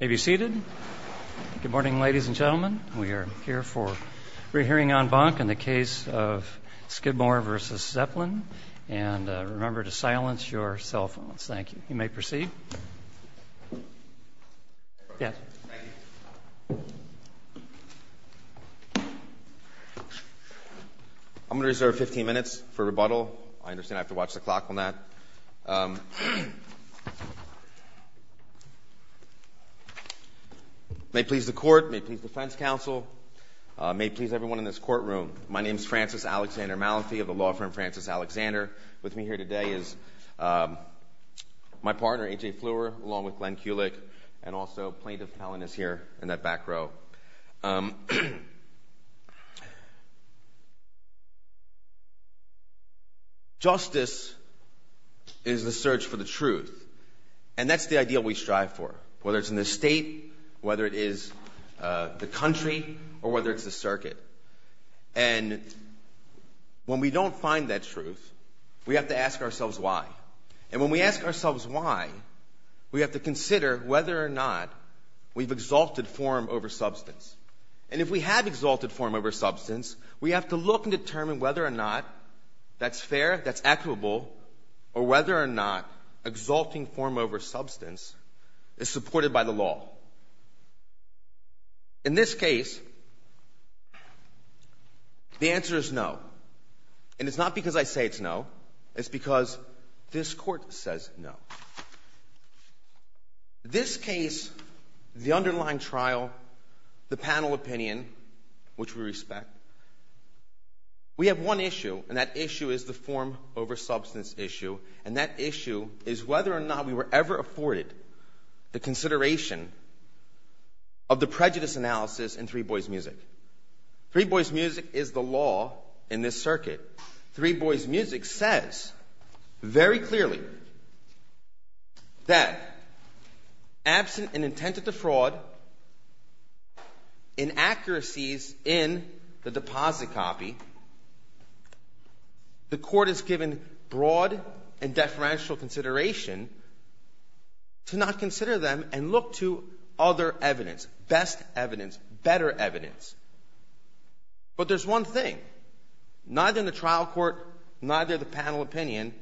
Have you seated? Good morning, ladies and gentlemen. We are here for re-hearing en banc in the case of Skidmore v. Zeppelin. And remember to silence your cell phones. Thank you. You may proceed. Yes. Thank you. I'm going to reserve 15 minutes for rebuttal. I understand I have to watch the clock on that. May it please the court, may it please the defense counsel, may it please everyone in this courtroom, my name is Francis Alexander Malafie of the law firm Francis Alexander. With me here today is my partner, A.J. Fleur, along with Glenn Kulik, and also plaintiff Helen is here in that back row. Justice is the search for the truth. And that's the ideal we strive for, whether it's in the state, whether it is the country, or whether it's the circuit. And when we don't find that truth, we have to ask ourselves why. And when we ask ourselves why, we have to consider whether or not we've exalted form over substance. And if we have exalted form over substance, we have to look and determine whether or not that's fair, that's equitable, or whether or not exalting form over substance is supported by the law. In this case, the answer is no. And it's not because I say it's no. It's because this court says no. This case, the underlying trial, the panel opinion, which we respect, we have one issue, and that issue is the form over substance issue, and that issue is whether or not we were ever afforded the consideration of the prejudice analysis in Three Boys Music. Three Boys Music is the law in this circuit. Three Boys Music says very clearly that absent an intent to defraud, inaccuracies in the deposit copy, the court is given broad and deferential consideration to not consider them and look to other evidence, best evidence, better evidence. But there's one thing. Neither in the trial court, neither the panel opinion,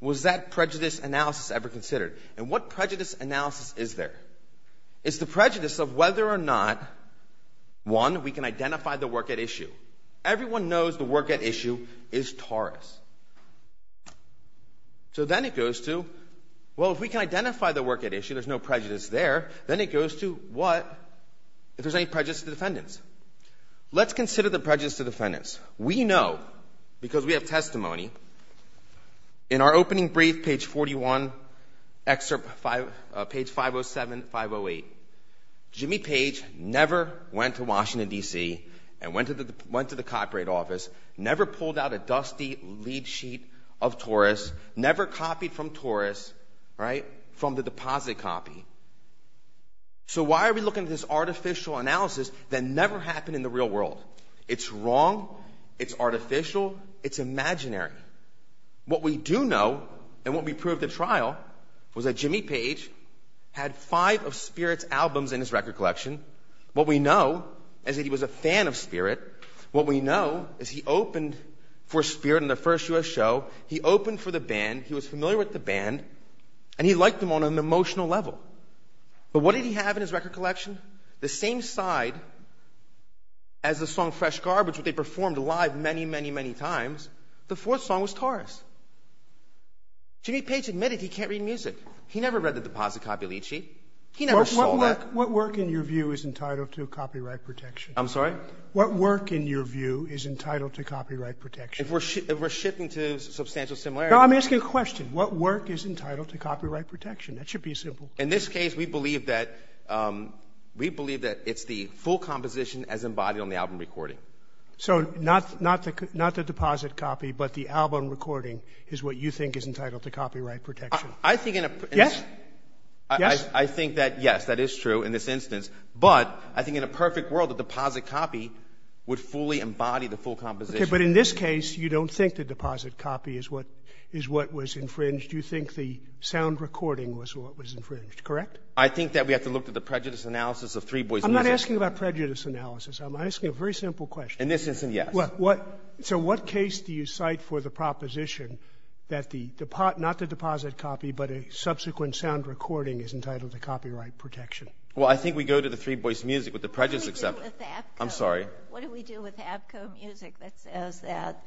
was that prejudice analysis ever considered. And what prejudice analysis is there? It's the prejudice of whether or not, one, we can identify the work at issue. Everyone knows the work at issue is Taurus. So then it goes to, well, if we can identify the work at issue, there's no prejudice there, then it goes to, what, if there's any prejudice to defendants? Let's consider the prejudice to defendants. We know, because we have testimony, in our opening brief, page 41, excerpt 5, page 507, 508, Jimmy Page never went to Washington, D.C., and went to the copyright office, never pulled out a dusty lead sheet of Taurus, never copied from Taurus, right, from the deposit copy. So why are we looking at this artificial analysis that never happened in the real world? It's wrong. It's artificial. It's imaginary. What we do know and what we proved at trial was that Jimmy Page had five of Spirit's albums in his record collection. What we know is that he was a fan of Spirit. What we know is he opened for Spirit in their first U.S. show. He opened for the band. He was familiar with the band, and he liked them on an emotional level. But what did he have in his record collection? The same side as the song Fresh Garbage, which they performed live many, many, many times, the fourth song was Taurus. Jimmy Page admitted he can't read music. He never read the deposit copy lead sheet. He never saw that. What work, in your view, is entitled to copyright protection? I'm sorry? What work, in your view, is entitled to copyright protection? If we're shifting to substantial similarities. No, I'm asking a question. What work is entitled to copyright protection? That should be simple. In this case, we believe that it's the full composition as embodied on the album recording. So not the deposit copy, but the album recording is what you think is entitled to copyright protection. I think in a- Yes? Yes? I think that yes, that is true in this instance. But I think in a perfect world, the deposit copy would fully embody the full composition. Okay, but in this case, you don't think the deposit copy is what was infringed. You think the sound recording was what was infringed, correct? I think that we have to look at the prejudice analysis of Three Boys Music. I'm not asking about prejudice analysis. I'm asking a very simple question. In this instance, yes. So what case do you cite for the proposition that not the deposit copy, but a subsequent sound recording is entitled to copyright protection? Well, I think we go to the Three Boys Music with the prejudice- What do we do with Abco? I'm sorry? What do we do with Abco Music that says that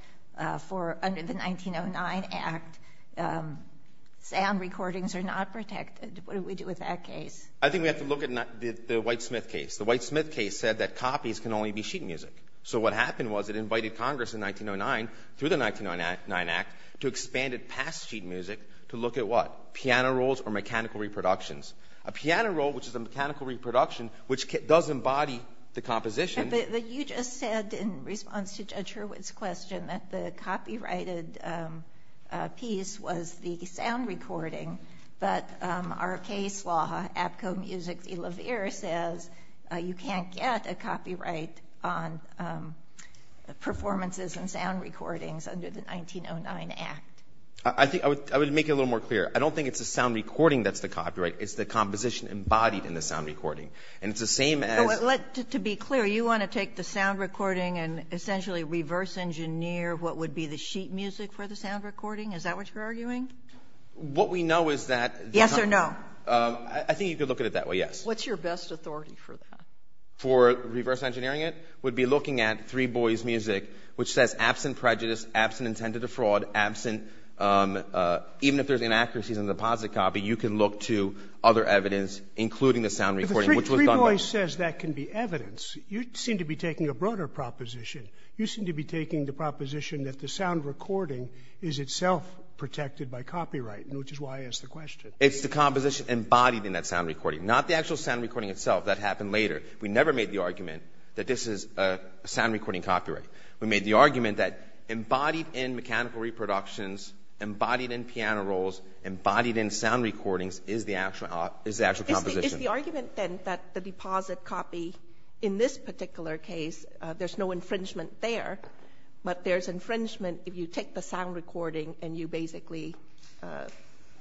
for under the 1909 Act, sound recordings are not protected? What do we do with that case? I think we have to look at the Whitesmith case. The Whitesmith case said that copies can only be sheet music. So what happened was it invited Congress in 1909 through the 1909 Act to expand it past sheet music to look at what? Piano rolls or mechanical reproductions. A piano roll, which is a mechanical reproduction, which does embody the composition- But you just said in response to Judge Hurwitz's question that the copyrighted piece was the sound recording. But our case law, Abco Music v. Laverre, says you can't get a copyright on performances and sound recordings under the 1909 Act. I would make it a little more clear. I don't think it's the sound recording that's the copyright. It's the composition embodied in the sound recording. And it's the same as- To be clear, you want to take the sound recording and essentially reverse engineer what would be the sheet music for the sound recording? Is that what you're arguing? What we know is that- Yes or no? I think you could look at it that way, yes. What's your best authority for that? For reverse engineering it? would be looking at Three Boys' music, which says absent prejudice, absent intent to defraud, absent- Even if there's inaccuracies in the deposit copy, you can look to other evidence, including the sound recording, which was done by- But Three Boys says that can be evidence. You seem to be taking a broader proposition. You seem to be taking the proposition that the sound recording is itself protected by copyright, which is why I asked the question. It's the composition embodied in that sound recording, not the actual sound recording itself. That happened later. We never made the argument that this is a sound recording copyright. We made the argument that embodied in mechanical reproductions, embodied in piano rolls, embodied in sound recordings is the actual composition. Is the argument, then, that the deposit copy in this particular case, there's no infringement there, but there's infringement if you take the sound recording and you basically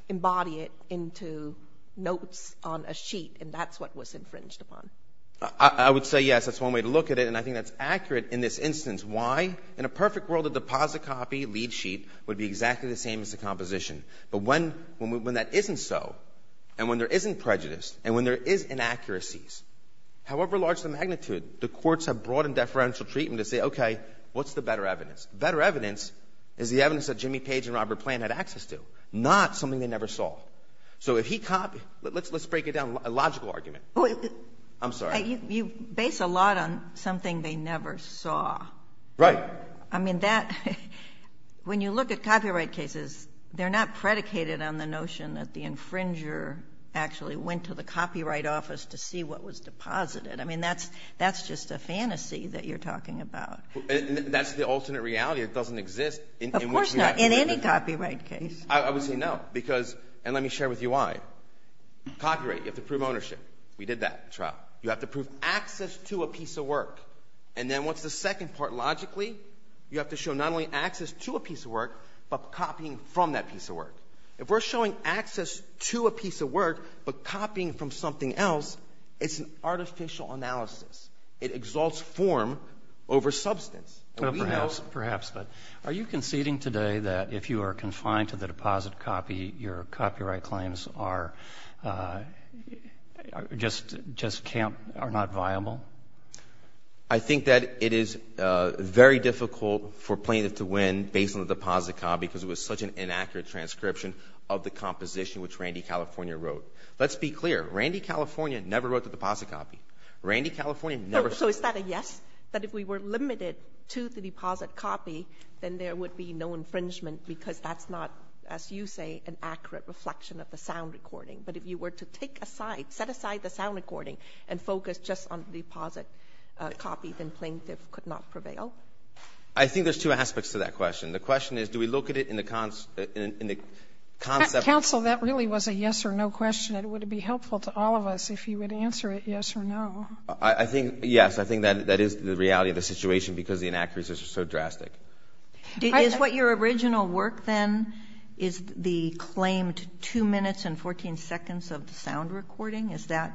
embody it into notes on a sheet, and that's what was infringed upon? I would say yes. That's one way to look at it, and I think that's accurate in this instance. Why? In a perfect world, the deposit copy lead sheet would be exactly the same as the composition. But when that isn't so, and when there isn't prejudice, and when there is inaccuracies, however large the magnitude, the courts have brought in deferential treatment to say, okay, what's the better evidence? The better evidence is the evidence that Jimmy Page and Robert Plante had access to, not something they never saw. So if he copied – let's break it down, a logical argument. I'm sorry. You base a lot on something they never saw. Right. I mean, that – when you look at copyright cases, they're not predicated on the notion that the infringer actually went to the copyright office to see what was deposited. I mean, that's just a fantasy that you're talking about. That's the alternate reality. It doesn't exist. Of course not, in any copyright case. I would say no, because – and let me share with you why. Copyright, you have to prove ownership. We did that in trial. You have to prove access to a piece of work. And then what's the second part logically? You have to show not only access to a piece of work but copying from that piece of work. If we're showing access to a piece of work but copying from something else, it's an artificial analysis. It exalts form over substance. Perhaps, but are you conceding today that if you are confined to the deposit copy, your copyright claims are – just can't – are not viable? I think that it is very difficult for plaintiff to win based on the deposit copy because it was such an inaccurate transcription of the composition which Randy California wrote. Let's be clear. Randy California never wrote the deposit copy. Randy California never – So is that a yes? That if we were limited to the deposit copy, then there would be no infringement because that's not, as you say, an accurate reflection of the sound recording. But if you were to take aside – set aside the sound recording and focus just on the deposit copy, then plaintiff could not prevail? I think there's two aspects to that question. The question is do we look at it in the concept – Counsel, that really was a yes or no question. It would be helpful to all of us if you would answer it yes or no. I think yes. I think that is the reality of the situation because the inaccuracies are so drastic. Is what your original work, then, is the claimed two minutes and 14 seconds of the sound recording? Is that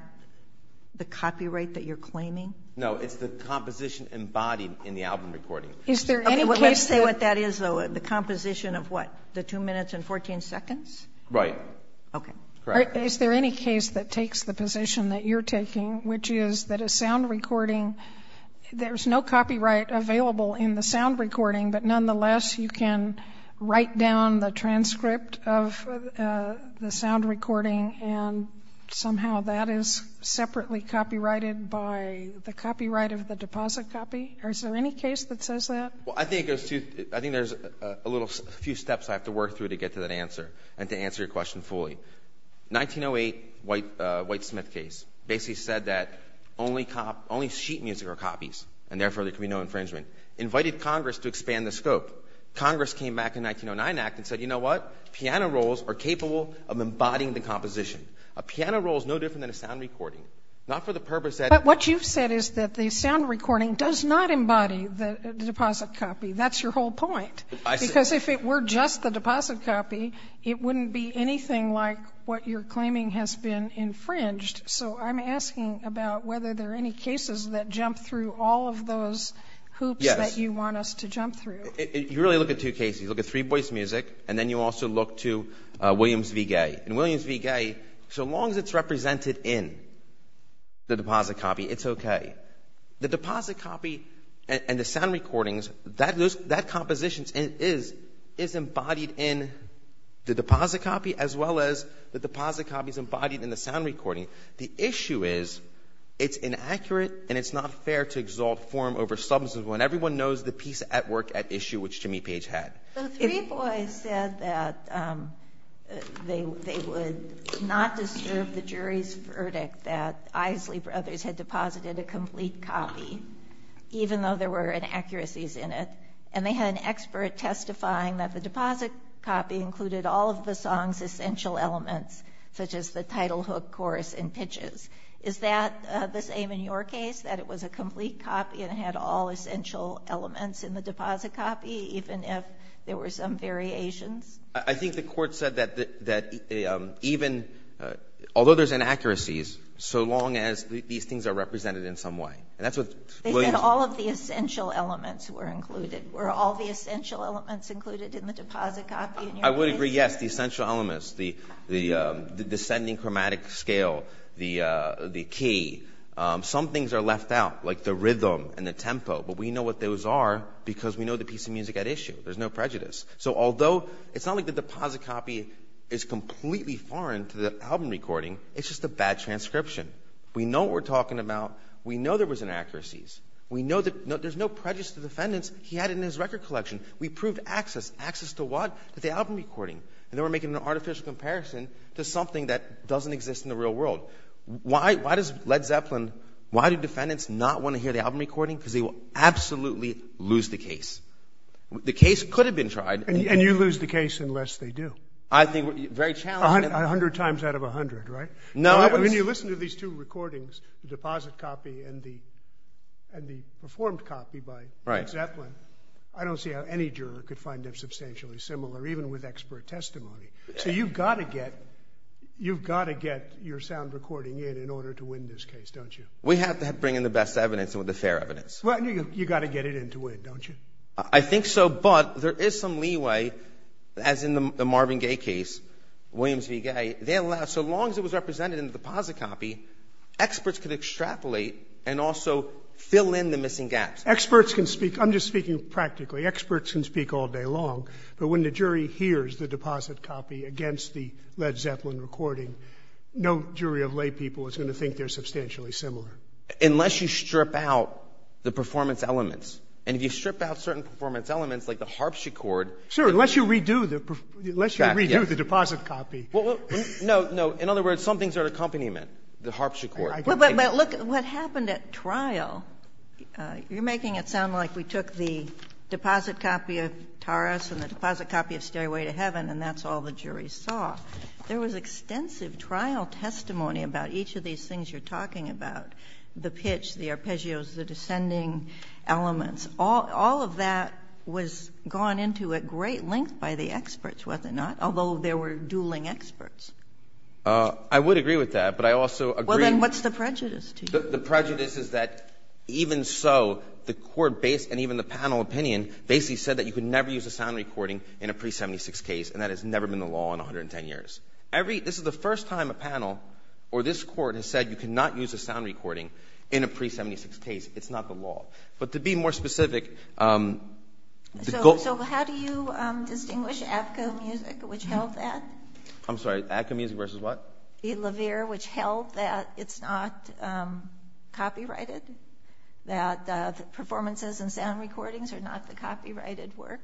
the copyright that you're claiming? No, it's the composition embodied in the album recording. Is there any case that – Can you say what that is, though? The composition of what? The two minutes and 14 seconds? Right. Okay. Is there any case that takes the position that you're taking, which is that a sound recording – there's no copyright available in the sound recording, but nonetheless you can write down the transcript of the sound recording and somehow that is separately copyrighted by the copyright of the deposit copy? Is there any case that says that? Well, I think there's a few steps I have to work through to get to that answer and to answer your question fully. The 1908 White Smith case basically said that only sheet music are copies, and therefore there can be no infringement. It invited Congress to expand the scope. Congress came back in the 1909 Act and said, you know what? Piano rolls are capable of embodying the composition. A piano roll is no different than a sound recording, not for the purpose that – It does not embody the deposit copy. That's your whole point. Because if it were just the deposit copy, it wouldn't be anything like what you're claiming has been infringed. So I'm asking about whether there are any cases that jump through all of those hoops that you want us to jump through. You really look at two cases. You look at three-voice music, and then you also look to Williams v. Gay. In Williams v. Gay, so long as it's represented in the deposit copy, it's okay. The deposit copy and the sound recordings, that composition is embodied in the deposit copy as well as the deposit copy is embodied in the sound recording. The issue is it's inaccurate and it's not fair to exalt form over substance when everyone knows the piece at work at issue, which Jimmy Page had. The three boys said that they would not disturb the jury's verdict that Isley Brothers had deposited a complete copy, even though there were inaccuracies in it. And they had an expert testifying that the deposit copy included all of the song's essential elements, such as the title hook, chorus, and pitches. Is that the same in your case, that it was a complete copy and it had all essential elements in the deposit copy, even if there were some variations? I think the court said that even, although there's inaccuracies, so long as these things are represented in some way. They said all of the essential elements were included. Were all the essential elements included in the deposit copy in your case? I would agree, yes, the essential elements, the descending chromatic scale, the key. Some things are left out, like the rhythm and the tempo, but we know what those are because we know the piece of music at issue. There's no prejudice. So although it's not like the deposit copy is completely foreign to the album recording, it's just a bad transcription. We know what we're talking about. We know there was inaccuracies. We know that there's no prejudice to the defendants. He had it in his record collection. We proved access. Access to what? To the album recording. And they were making an artificial comparison to something that doesn't exist in the real world. Why does Led Zeppelin, why do defendants not want to hear the album recording? Because they will absolutely lose the case. The case could have been tried. And you lose the case unless they do. I think very challenging. A hundred times out of a hundred, right? No. When you listen to these two recordings, the deposit copy and the performed copy by Led Zeppelin, I don't see how any juror could find them substantial. They're essentially similar, even with expert testimony. So you've got to get your sound recording in in order to win this case, don't you? We have to bring in the best evidence and the fair evidence. Well, you've got to get it in to win, don't you? I think so, but there is some leeway, as in the Marvin Gaye case, Williams v. Gaye. So long as it was represented in the deposit copy, experts could extrapolate and also fill in the missing gaps. Experts can speak. I'm just speaking practically. Experts can speak all day long. But when the jury hears the deposit copy against the Led Zeppelin recording, no jury of laypeople is going to think they're substantially similar. Unless you strip out the performance elements. And if you strip out certain performance elements, like the harpsichord. Sure, unless you redo the deposit copy. No, no. In other words, some things are an accompaniment, the harpsichord. But look, what happened at trial, you're making it sound like we took the deposit copy of Taurus and the deposit copy of Stairway to Heaven and that's all the jury saw. There was extensive trial testimony about each of these things you're talking about, the pitch, the arpeggios, the descending elements. All of that was gone into at great length by the experts, was it not? Although there were dueling experts. I would agree with that, but I also agree. Well, then what's the prejudice to you? The prejudice is that even so, the court and even the panel opinion basically said that you could never use a sound recording in a pre-76 case. And that has never been the law in 110 years. This is the first time a panel or this court has said you cannot use a sound recording in a pre-76 case. It's not the law. But to be more specific. So how do you distinguish Adco Music, which held that? I'm sorry, Adco Music versus what? Edelweir, which held that it's not copyrighted? That the performances and sound recordings are not the copyrighted work?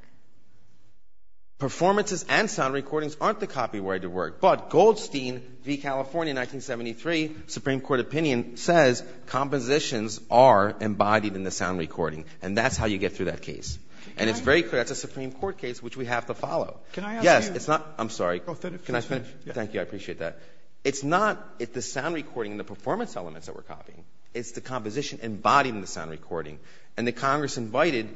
Performances and sound recordings aren't the copyrighted work. But Goldstein v. California 1973 Supreme Court opinion says compositions are embodied in the sound recording. And that's how you get through that case. And it's very clear that's a Supreme Court case which we have to follow. Can I ask you? Yes, it's not. I'm sorry. Can I finish? Thank you. I appreciate that. It's not the sound recording and the performance elements that we're copying. It's the composition embodied in the sound recording. And the Congress invited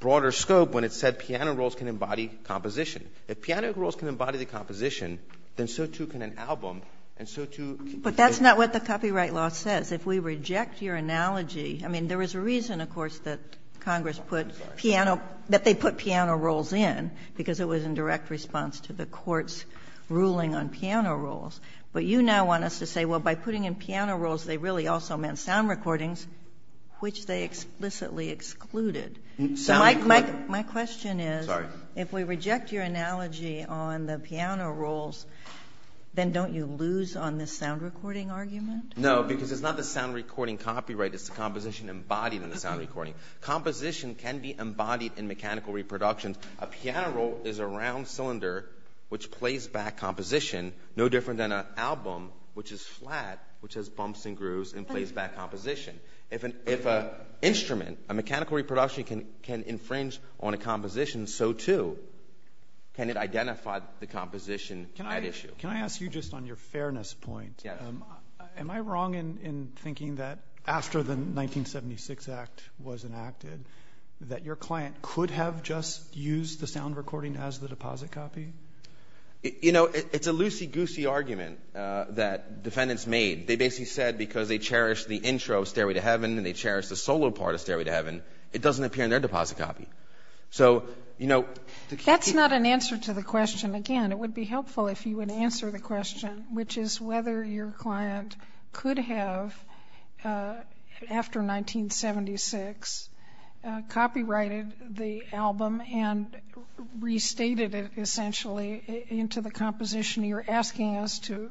broader scope when it said piano rolls can embody composition. If piano rolls can embody the composition, then so, too, can an album. And so, too. But that's not what the copyright law says. If we reject your analogy. I mean, there was a reason, of course, that Congress put piano, that they put piano rolls in. Because it was in direct response to the court's ruling on piano rolls. But you now want us to say, well, by putting in piano rolls, they really also meant sound recordings, which they explicitly excluded. My question is if we reject your analogy on the piano rolls, then don't you lose on the sound recording argument? No, because it's not the sound recording copyright. It's the composition embodied in the sound recording. Composition can be embodied in mechanical reproductions. A piano roll is a round cylinder, which plays back composition no different than an album, which is flat, which has bumps and grooves and plays back composition. If an instrument, a mechanical reproduction, can infringe on a composition, so, too, can it identify the composition at issue? Can I ask you just on your fairness point? Yes. Am I wrong in thinking that after the 1976 Act was enacted, that your client could have just used the sound recording as the deposit copy? You know, it's a loosey-goosey argument that defendants made. They basically said because they cherished the intro of Stairway to Heaven and they cherished the solo part of Stairway to Heaven, it doesn't appear in their deposit copy. That's not an answer to the question. Again, it would be helpful if you would answer the question, which is whether your client could have, after 1976, copyrighted the album and restated it, essentially, into the composition you're asking us to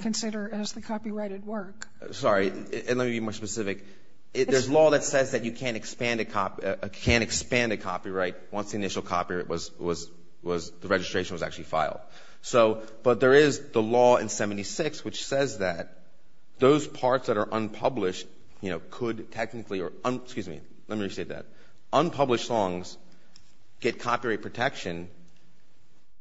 consider as the copyrighted work. Sorry, and let me be more specific. There's law that says that you can't expand a copyright once the initial copyright was – the registration was actually filed. But there is the law in 1976 which says that those parts that are unpublished could technically – excuse me, let me restate that. Unpublished songs get copyright protection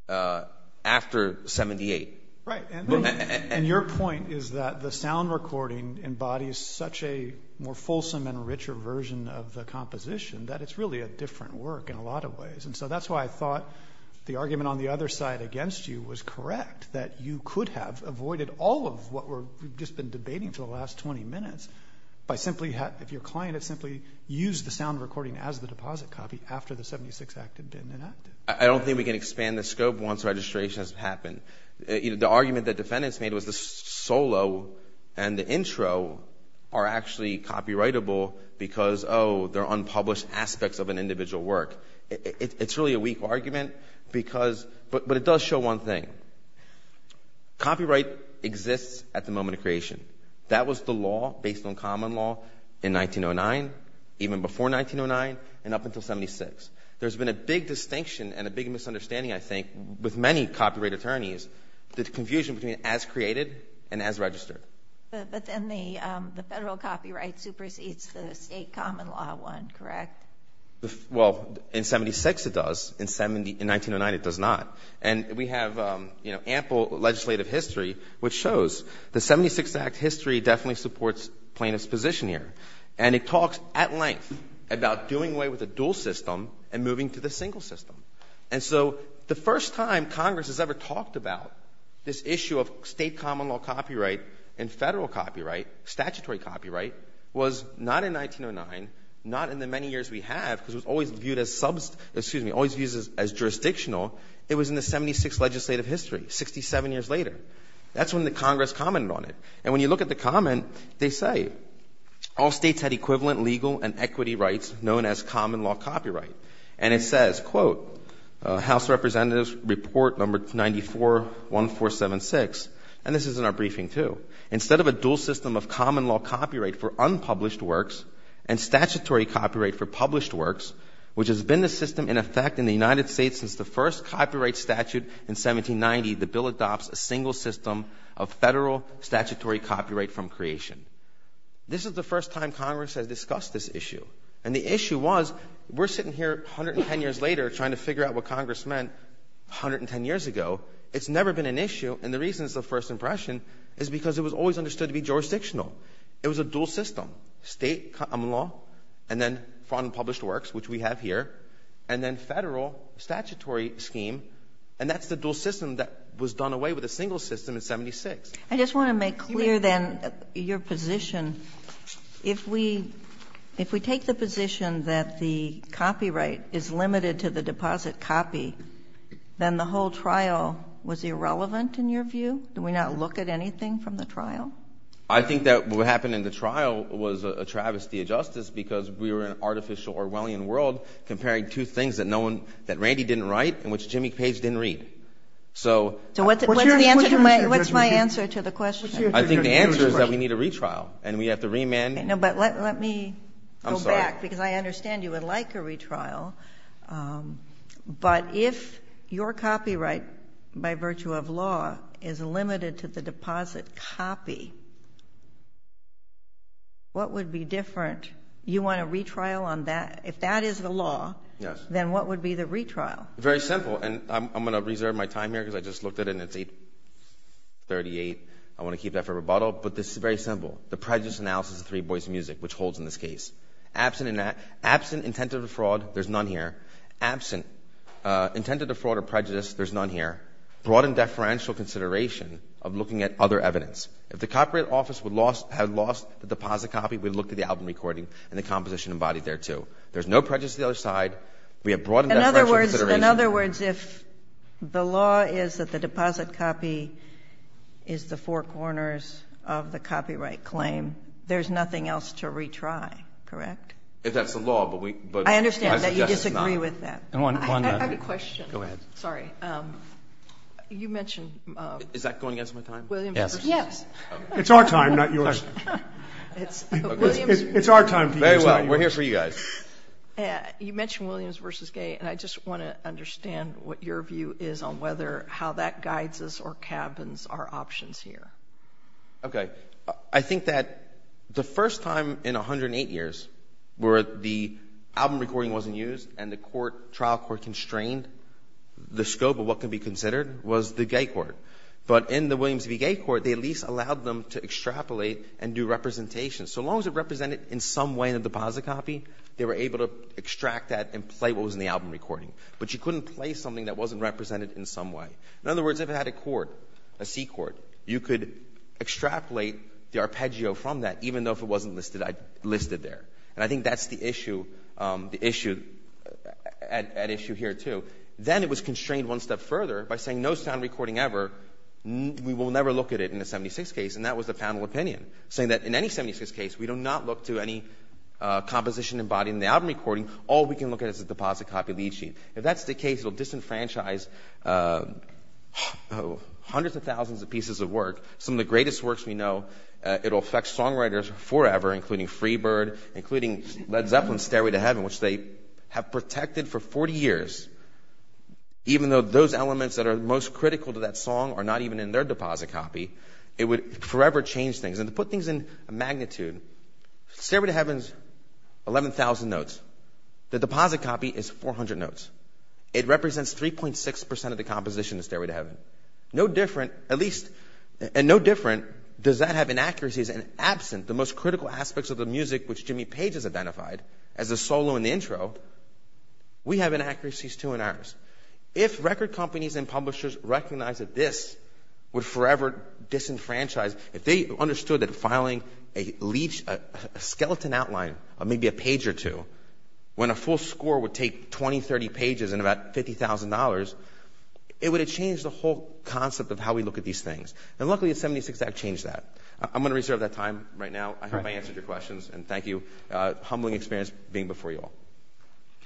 after 1978. Right, and your point is that the sound recording embodies such a more fulsome and richer version of the composition that it's really a different work in a lot of ways. And so that's why I thought the argument on the other side against you was correct, that you could have avoided all of what we've just been debating for the last 20 minutes by simply – if your client had simply used the sound recording as the deposit copy after the 76 Act had been enacted. I don't think we can expand the scope once registration has happened. The argument that defendants made was the solo and the intro are actually copyrightable because, oh, they're unpublished aspects of an individual work. It's really a weak argument because – but it does show one thing. Copyright exists at the moment of creation. That was the law based on common law in 1909, even before 1909, and up until 76. There's been a big distinction and a big misunderstanding, I think, with many copyright attorneys, the confusion between as created and as registered. But then the federal copyright supersedes the state common law one, correct? Well, in 76 it does. In 1909 it does not. And we have ample legislative history which shows the 76 Act history definitely supports plaintiff's position here. And it talks at length about doing away with the dual system and moving to the single system. And so the first time Congress has ever talked about this issue of state common law copyright and federal copyright, statutory copyright, was not in 1909, not in the many years we have because it was always viewed as jurisdictional. It was in the 76 legislative history, 67 years later. That's when the Congress commented on it. And when you look at the comment, they say all states had equivalent legal and equity rights known as common law copyright. And it says, quote, House Representatives Report No. 94-1476, and this is in our briefing too, instead of a dual system of common law copyright for unpublished works and statutory copyright for published works, which has been the system in effect in the United States since the first copyright statute in 1790. The bill adopts a single system of federal statutory copyright from creation. This is the first time Congress has discussed this issue. And the issue was we're sitting here 110 years later trying to figure out what Congress meant 110 years ago. It's never been an issue. And the reason it's the first impression is because it was always understood to be jurisdictional. It was a dual system, state common law and then front unpublished works, which we have here, and then federal statutory scheme. And that's the dual system that was done away with a single system in 76. I just want to make clear then your position. If we take the position that the copyright is limited to the deposit copy, then the whole trial was irrelevant in your view? I think that what happened in the trial was a travesty of justice because we were in an artificial Orwellian world comparing two things that Randy didn't write and which Jimmy Page didn't read. So what's my answer to the question? I think the answer is that we need a retrial and we have to remand. But let me go back because I understand you would like a retrial. But if your copyright by virtue of law is limited to the deposit copy, what would be different? You want a retrial on that? If that is the law, then what would be the retrial? Very simple. And I'm going to reserve my time here because I just looked at it and it's 8.38. I want to keep that for rebuttal. But this is very simple. The prejudice analysis of Three Boys Music, which holds in this case. Absent intent of defraud, there's none here. Absent intent of defraud or prejudice, there's none here. Broadened deferential consideration of looking at other evidence. If the copyright office had lost the deposit copy, we'd look at the album recording and the composition embodied there too. There's no prejudice to the other side. We have broadened deferential consideration. In other words, if the law is that the deposit copy is the four corners of the copyright claim, then there's nothing else to retry, correct? If that's the law, but I suggest it's not. I understand that you disagree with that. I have a question. Go ahead. Sorry. You mentioned – Is that going against my time? Yes. It's our time, not yours. It's our time. Very well. We're here for you guys. You mentioned Williams v. Gay. And I just want to understand what your view is on whether how that guides us or cabins our options here. Okay. I think that the first time in 108 years where the album recording wasn't used and the trial court constrained, the scope of what could be considered was the gay court. But in the Williams v. Gay court, they at least allowed them to extrapolate and do representation. So long as it represented in some way in the deposit copy, they were able to extract that and play what was in the album recording. But you couldn't play something that wasn't represented in some way. In other words, if it had a court, a C court, you could extrapolate the arpeggio from that even though if it wasn't listed there. And I think that's the issue at issue here too. Then it was constrained one step further by saying no sound recording ever. We will never look at it in a 76 case, and that was the panel opinion, saying that in any 76 case we do not look to any composition embodied in the album recording. All we can look at is the deposit copy lead sheet. If that's the case, it will disenfranchise hundreds of thousands of pieces of work, some of the greatest works we know. It will affect songwriters forever, including Freebird, including Led Zeppelin's Stairway to Heaven, which they have protected for 40 years. Even though those elements that are most critical to that song are not even in their deposit copy, it would forever change things. And to put things in magnitude, Stairway to Heaven is 11,000 notes. The deposit copy is 400 notes. It represents 3.6% of the composition in Stairway to Heaven. No different, at least, and no different does that have inaccuracies. And absent the most critical aspects of the music which Jimmy Page has identified as the solo and the intro, we have inaccuracies too in ours. If record companies and publishers recognize that this would forever disenfranchise, if they understood that filing a skeleton outline of maybe a page or two, when a full score would take 20, 30 pages and about $50,000, it would have changed the whole concept of how we look at these things. And luckily, the 76 Act changed that. I'm going to reserve that time right now. I hope I answered your questions, and thank you. A humbling experience being before you all.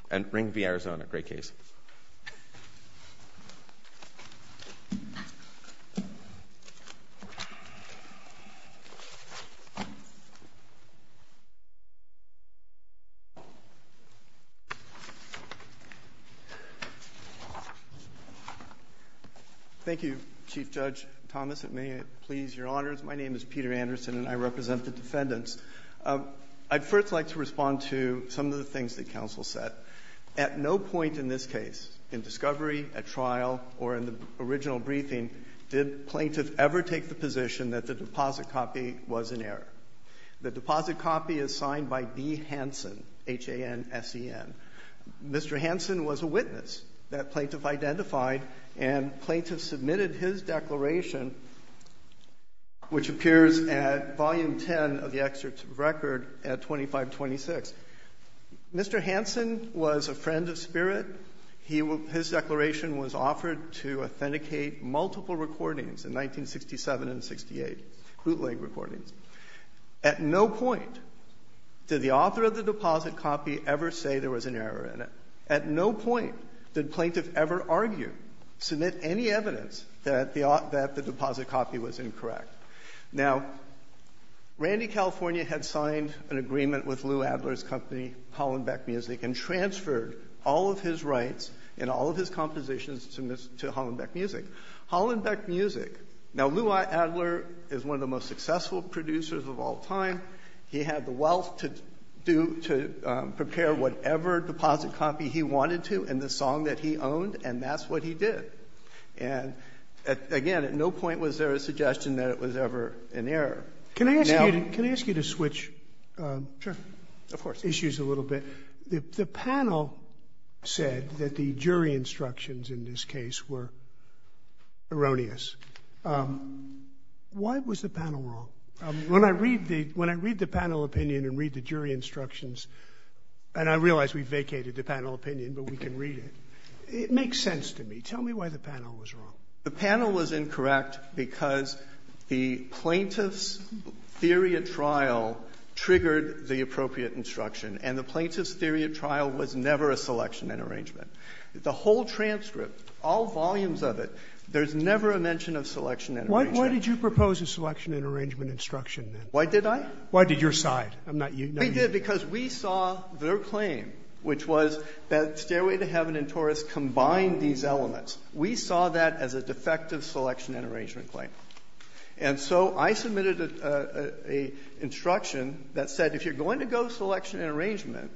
And Ring v. Arizona, great case. Thank you. Thank you, Chief Judge Thomas, and may it please your honors. My name is Peter Anderson, and I represent the defendants. I'd first like to respond to some of the things that counsel said. At no point in this case, in discovery, at trial, or in the original briefing, did plaintiff ever take the position that the deposit copy was in error. The deposit copy is signed by D. Hansen, H-A-N-S-E-N. Mr. Hansen was a witness that plaintiff identified, and plaintiff submitted his declaration, which appears at Volume 10 of the Excerpt of Record at 2526. Mr. Hansen was a friend of spirit. His declaration was offered to authenticate multiple recordings in 1967 and 68, bootleg recordings. At no point did the author of the deposit copy ever say there was an error in it. At no point did plaintiff ever argue, submit any evidence that the deposit copy was incorrect. Now, Randy California had signed an agreement with Lou Adler's company, Hollenbeck Music, and transferred all of his rights and all of his compositions to Hollenbeck Music. Hollenbeck Music, now Lou Adler is one of the most successful producers of all time. He had the wealth to prepare whatever deposit copy he wanted to in the song that he owned, and that's what he did. And, again, at no point was there a suggestion that it was ever an error. Can I ask you to switch issues a little bit? The panel said that the jury instructions in this case were erroneous. Why was the panel wrong? When I read the panel opinion and read the jury instructions, and I realize we vacated the panel opinion, but we can read it, it makes sense to me. Tell me why the panel was wrong. The panel was incorrect because the plaintiff's theory of trial triggered the appropriate instruction, and the plaintiff's theory of trial was never a selection and arrangement. The whole transcript, all volumes of it, there's never a mention of selection and arrangement. Why did you propose a selection and arrangement instruction, then? Why did I? Why did your side? I'm not you. We did because we saw their claim, which was that Stairway to Heaven and Taurus combined these elements. We saw that as a defective selection and arrangement claim. And so I submitted an instruction that said if you're going to go selection and arrangement,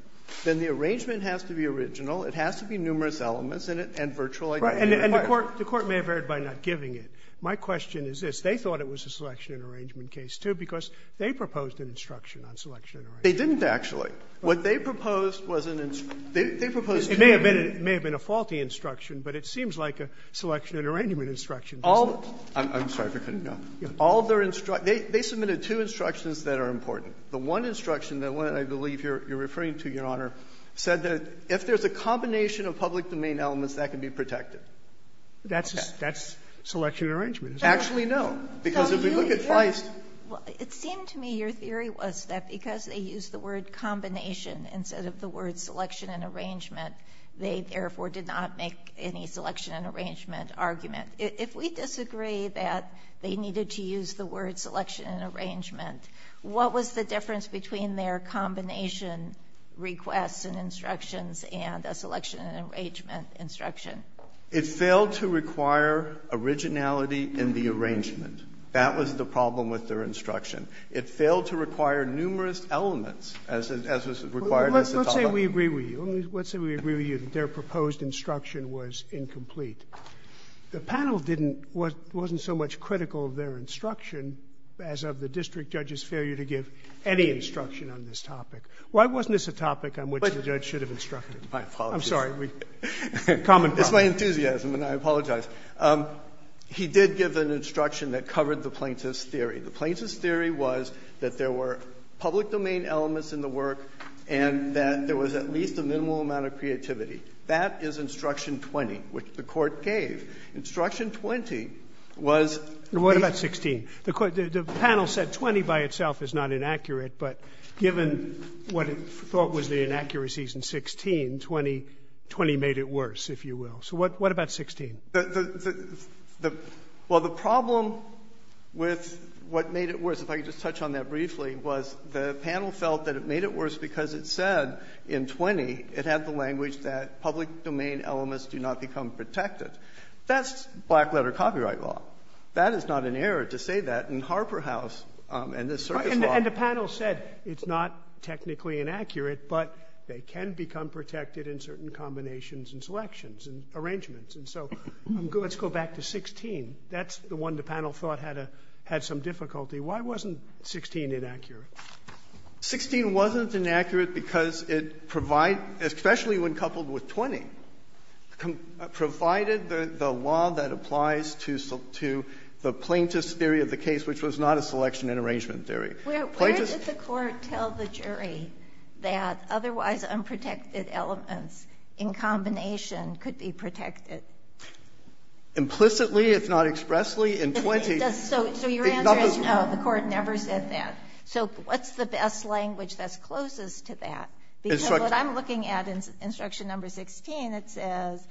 then the arrangement has to be original. It has to be numerous elements in it and virtually identical. And the Court may have erred by not giving it. My question is this. They thought it was a selection and arrangement case, too, because they proposed an instruction on selection and arrangement. They didn't, actually. What they proposed was an instruction. They proposed two. It may have been a faulty instruction, but it seems like a selection and arrangement instruction. I'm sorry. They submitted two instructions that are important. The one instruction that I believe you're referring to, Your Honor, said that if there's a combination of public domain elements, that can be protected. That's selection and arrangement, isn't it? Actually, no. Because if we look at Feist. Well, it seemed to me your theory was that because they used the word combination instead of the word selection and arrangement, they therefore did not make any selection and arrangement argument. If we disagree that they needed to use the word selection and arrangement, what was the difference between their combination requests and instructions and a selection and arrangement instruction? It failed to require originality in the arrangement. That was the problem with their instruction. It failed to require numerous elements as was required as a topic. Let's say we agree with you. Let's say we agree with you that their proposed instruction was incomplete. The panel wasn't so much critical of their instruction as of the district judge's failure to give any instruction on this topic. Why wasn't this a topic on which the judge should have instructed? My apologies. I'm sorry. Common problem. It's my enthusiasm, and I apologize. He did give an instruction that covered the plaintiff's theory. The plaintiff's theory was that there were public domain elements in the work and that there was at least a minimal amount of creativity. That is instruction 20, which the Court gave. Instruction 20 was the case. What about 16? The panel said 20 by itself is not inaccurate, but given what it thought was the inaccuracies in 16, 20 made it worse, if you will. So what about 16? Well, the problem with what made it worse, if I could just touch on that briefly, was the panel felt that it made it worse because it said in 20 it had the language that public domain elements do not become protected. That's black-letter copyright law. That is not an error to say that in Harper House and this Circus Law. And the panel said it's not technically inaccurate, but they can become protected in certain combinations and selections and arrangements. And so let's go back to 16. That's the one the panel thought had some difficulty. Why wasn't 16 inaccurate? 16 wasn't inaccurate because it provided, especially when coupled with 20, provided the law that applies to the plaintiff's theory of the case, which was not a selection and arrangement theory. Where did the court tell the jury that otherwise unprotected elements in combination could be protected? Implicitly, if not expressly, in 20. So your answer is no, the court never said that. So what's the best language that's closest to that? Because what I'm looking at in instruction number 16, it says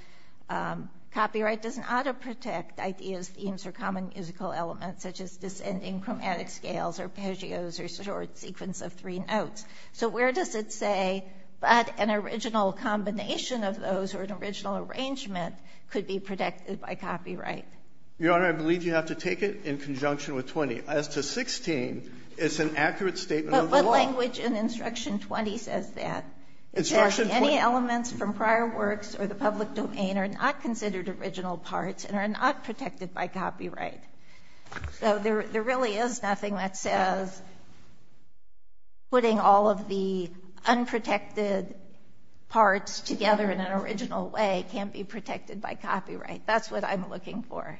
copyright doesn't auto-protect ideas, themes, or common musical elements such as descending chromatic scales, arpeggios, or short sequence of three notes. So where does it say but an original combination of those or an original arrangement could be protected by copyright? Your Honor, I believe you have to take it in conjunction with 20. As to 16, it's an accurate statement of the law. But what language in instruction 20 says that? Instruction 20. It says any elements from prior works or the public domain are not considered original parts and are not protected by copyright. So there really is nothing that says putting all of the unprotected parts together in an original way can't be protected by copyright. That's what I'm looking for.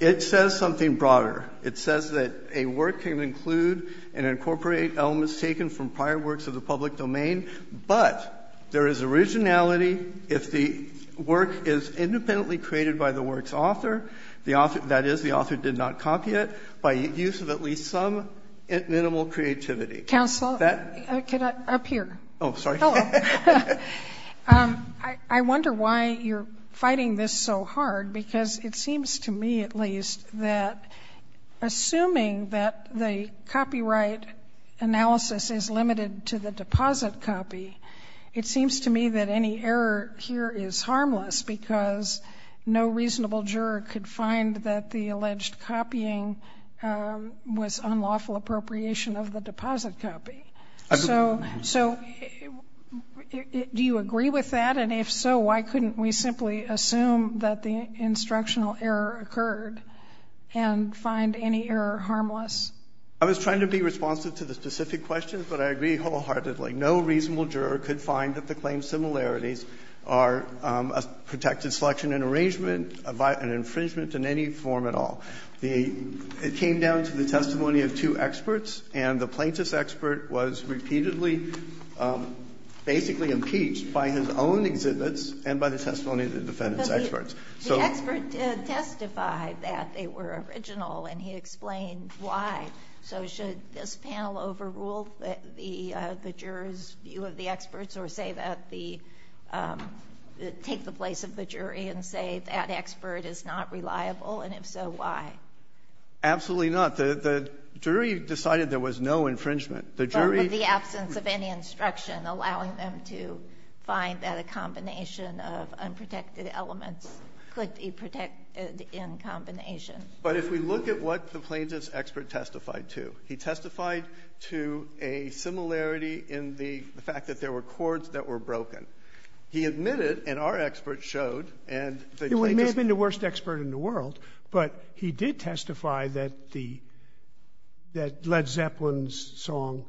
It says something broader. It says that a work can include and incorporate elements taken from prior works of the public domain. But there is originality if the work is independently created by the work's author, that is, the author did not copy it, by use of at least some minimal creativity. Counsel, up here. Oh, sorry. Hello. I wonder why you're fighting this so hard because it seems to me at least that assuming that the copyright analysis is limited to the deposit copy, it seems to me that any error here is harmless because no reasonable juror could find that the alleged copying was unlawful appropriation of the deposit copy. So do you agree with that? And if so, why couldn't we simply assume that the instructional error occurred and find any error harmless? I was trying to be responsive to the specific questions, but I agree wholeheartedly. No reasonable juror could find that the claim similarities are a protected selection and arrangement, an infringement in any form at all. It came down to the testimony of two experts, and the plaintiff's expert was repeatedly basically impeached by his own exhibits and by the testimony of the defendant's experts. The expert testified that they were original, and he explained why. So should this panel overrule the jury's view of the experts or take the place of the jury and say that expert is not reliable, and if so, why? Absolutely not. The jury decided there was no infringement. But with the absence of any instruction allowing them to find that a combination of unprotected elements could be protected in combination. But if we look at what the plaintiff's expert testified to, he testified to a similarity in the fact that there were cords that were broken. He admitted, and our expert showed, and the plaintiff's expert. He may have been the worst expert in the world, but he did testify that Led Zeppelin's song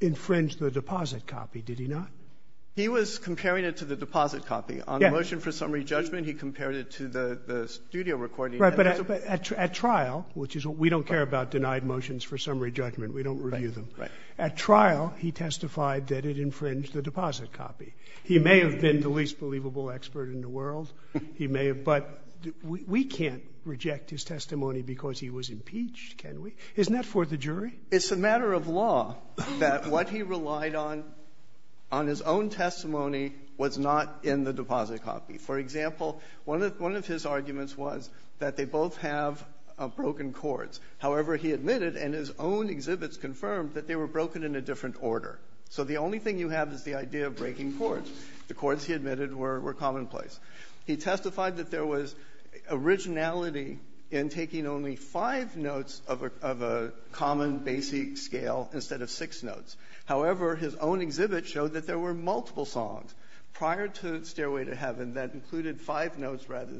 infringed the deposit copy, did he not? He was comparing it to the deposit copy. Yes. On the motion for summary judgment, he compared it to the studio recording. Right. But at trial, which is what we don't care about, denied motions for summary judgment, we don't review them. Right. At trial, he testified that it infringed the deposit copy. He may have been the least believable expert in the world. He may have. But we can't reject his testimony because he was impeached, can we? Isn't that for the jury? It's a matter of law that what he relied on, on his own testimony, was not in the deposit copy. For example, one of his arguments was that they both have broken cords. However, he admitted, and his own exhibits confirmed, that they were broken in a different order. So the only thing you have is the idea of breaking cords. The cords, he admitted, were commonplace. He testified that there was originality in taking only five notes of a common, basic scale instead of six notes. However, his own exhibit showed that there were multiple songs prior to Stairway to Heaven that included five notes rather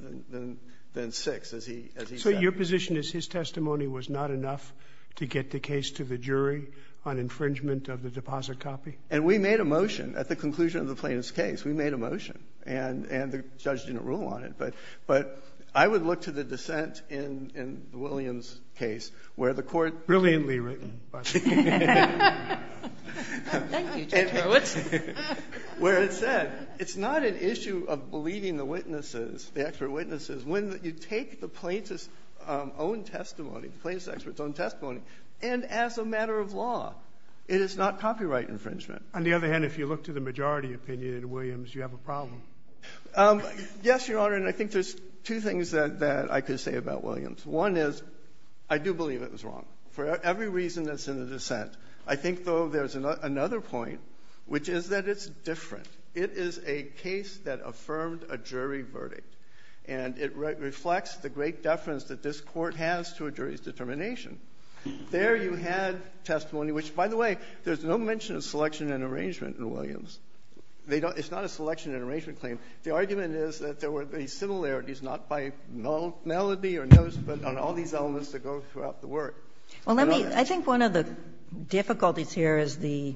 than six, as he said. So your position is his testimony was not enough to get the case to the jury on infringement of the deposit copy? And we made a motion at the conclusion of the plaintiff's case. We made a motion. And the judge didn't rule on it. But I would look to the dissent in Williams' case where the court ---- Brilliantly written, by the way. Thank you, Judge Hurwitz. Where it said it's not an issue of believing the witnesses, the expert witnesses. When you take the plaintiff's own testimony, the plaintiff's expert's own testimony, and as a matter of law, it is not copyright infringement. On the other hand, if you look to the majority opinion in Williams, you have a problem. Yes, Your Honor. And I think there's two things that I could say about Williams. One is I do believe it was wrong for every reason that's in the dissent. I think, though, there's another point, which is that it's different. It is a case that affirmed a jury verdict. And it reflects the great deference that this Court has to a jury's determination. There you had testimony, which, by the way, there's no mention of selection and arrangement in Williams. They don't ---- it's not a selection and arrangement claim. The argument is that there were these similarities, not by nullity or notice, but on all these elements that go throughout the work. It's not on that. I think one of the difficulties here is the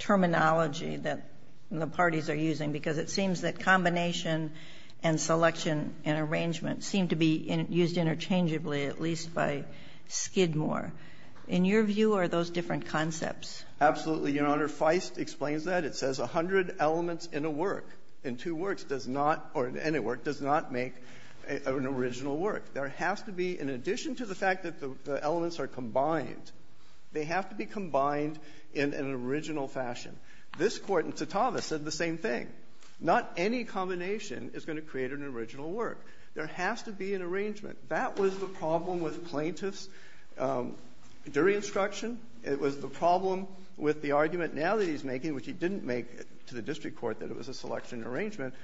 terminology that the parties are using, because it seems that combination and selection and arrangement seem to be used interchangeably, at least by Skidmore. In your view, are those different concepts? Absolutely, Your Honor. Feist explains that. It says 100 elements in a work, in two works, does not, or in any work, does not make an original work. There has to be, in addition to the fact that the elements are combined, they have to be combined in an original fashion. This Court in Tsitavas said the same thing. Not any combination is going to create an original work. There has to be an arrangement. That was the problem with plaintiffs during instruction. It was the problem with the argument now that he's making, which he didn't make to the district court that it was a selection and arrangement.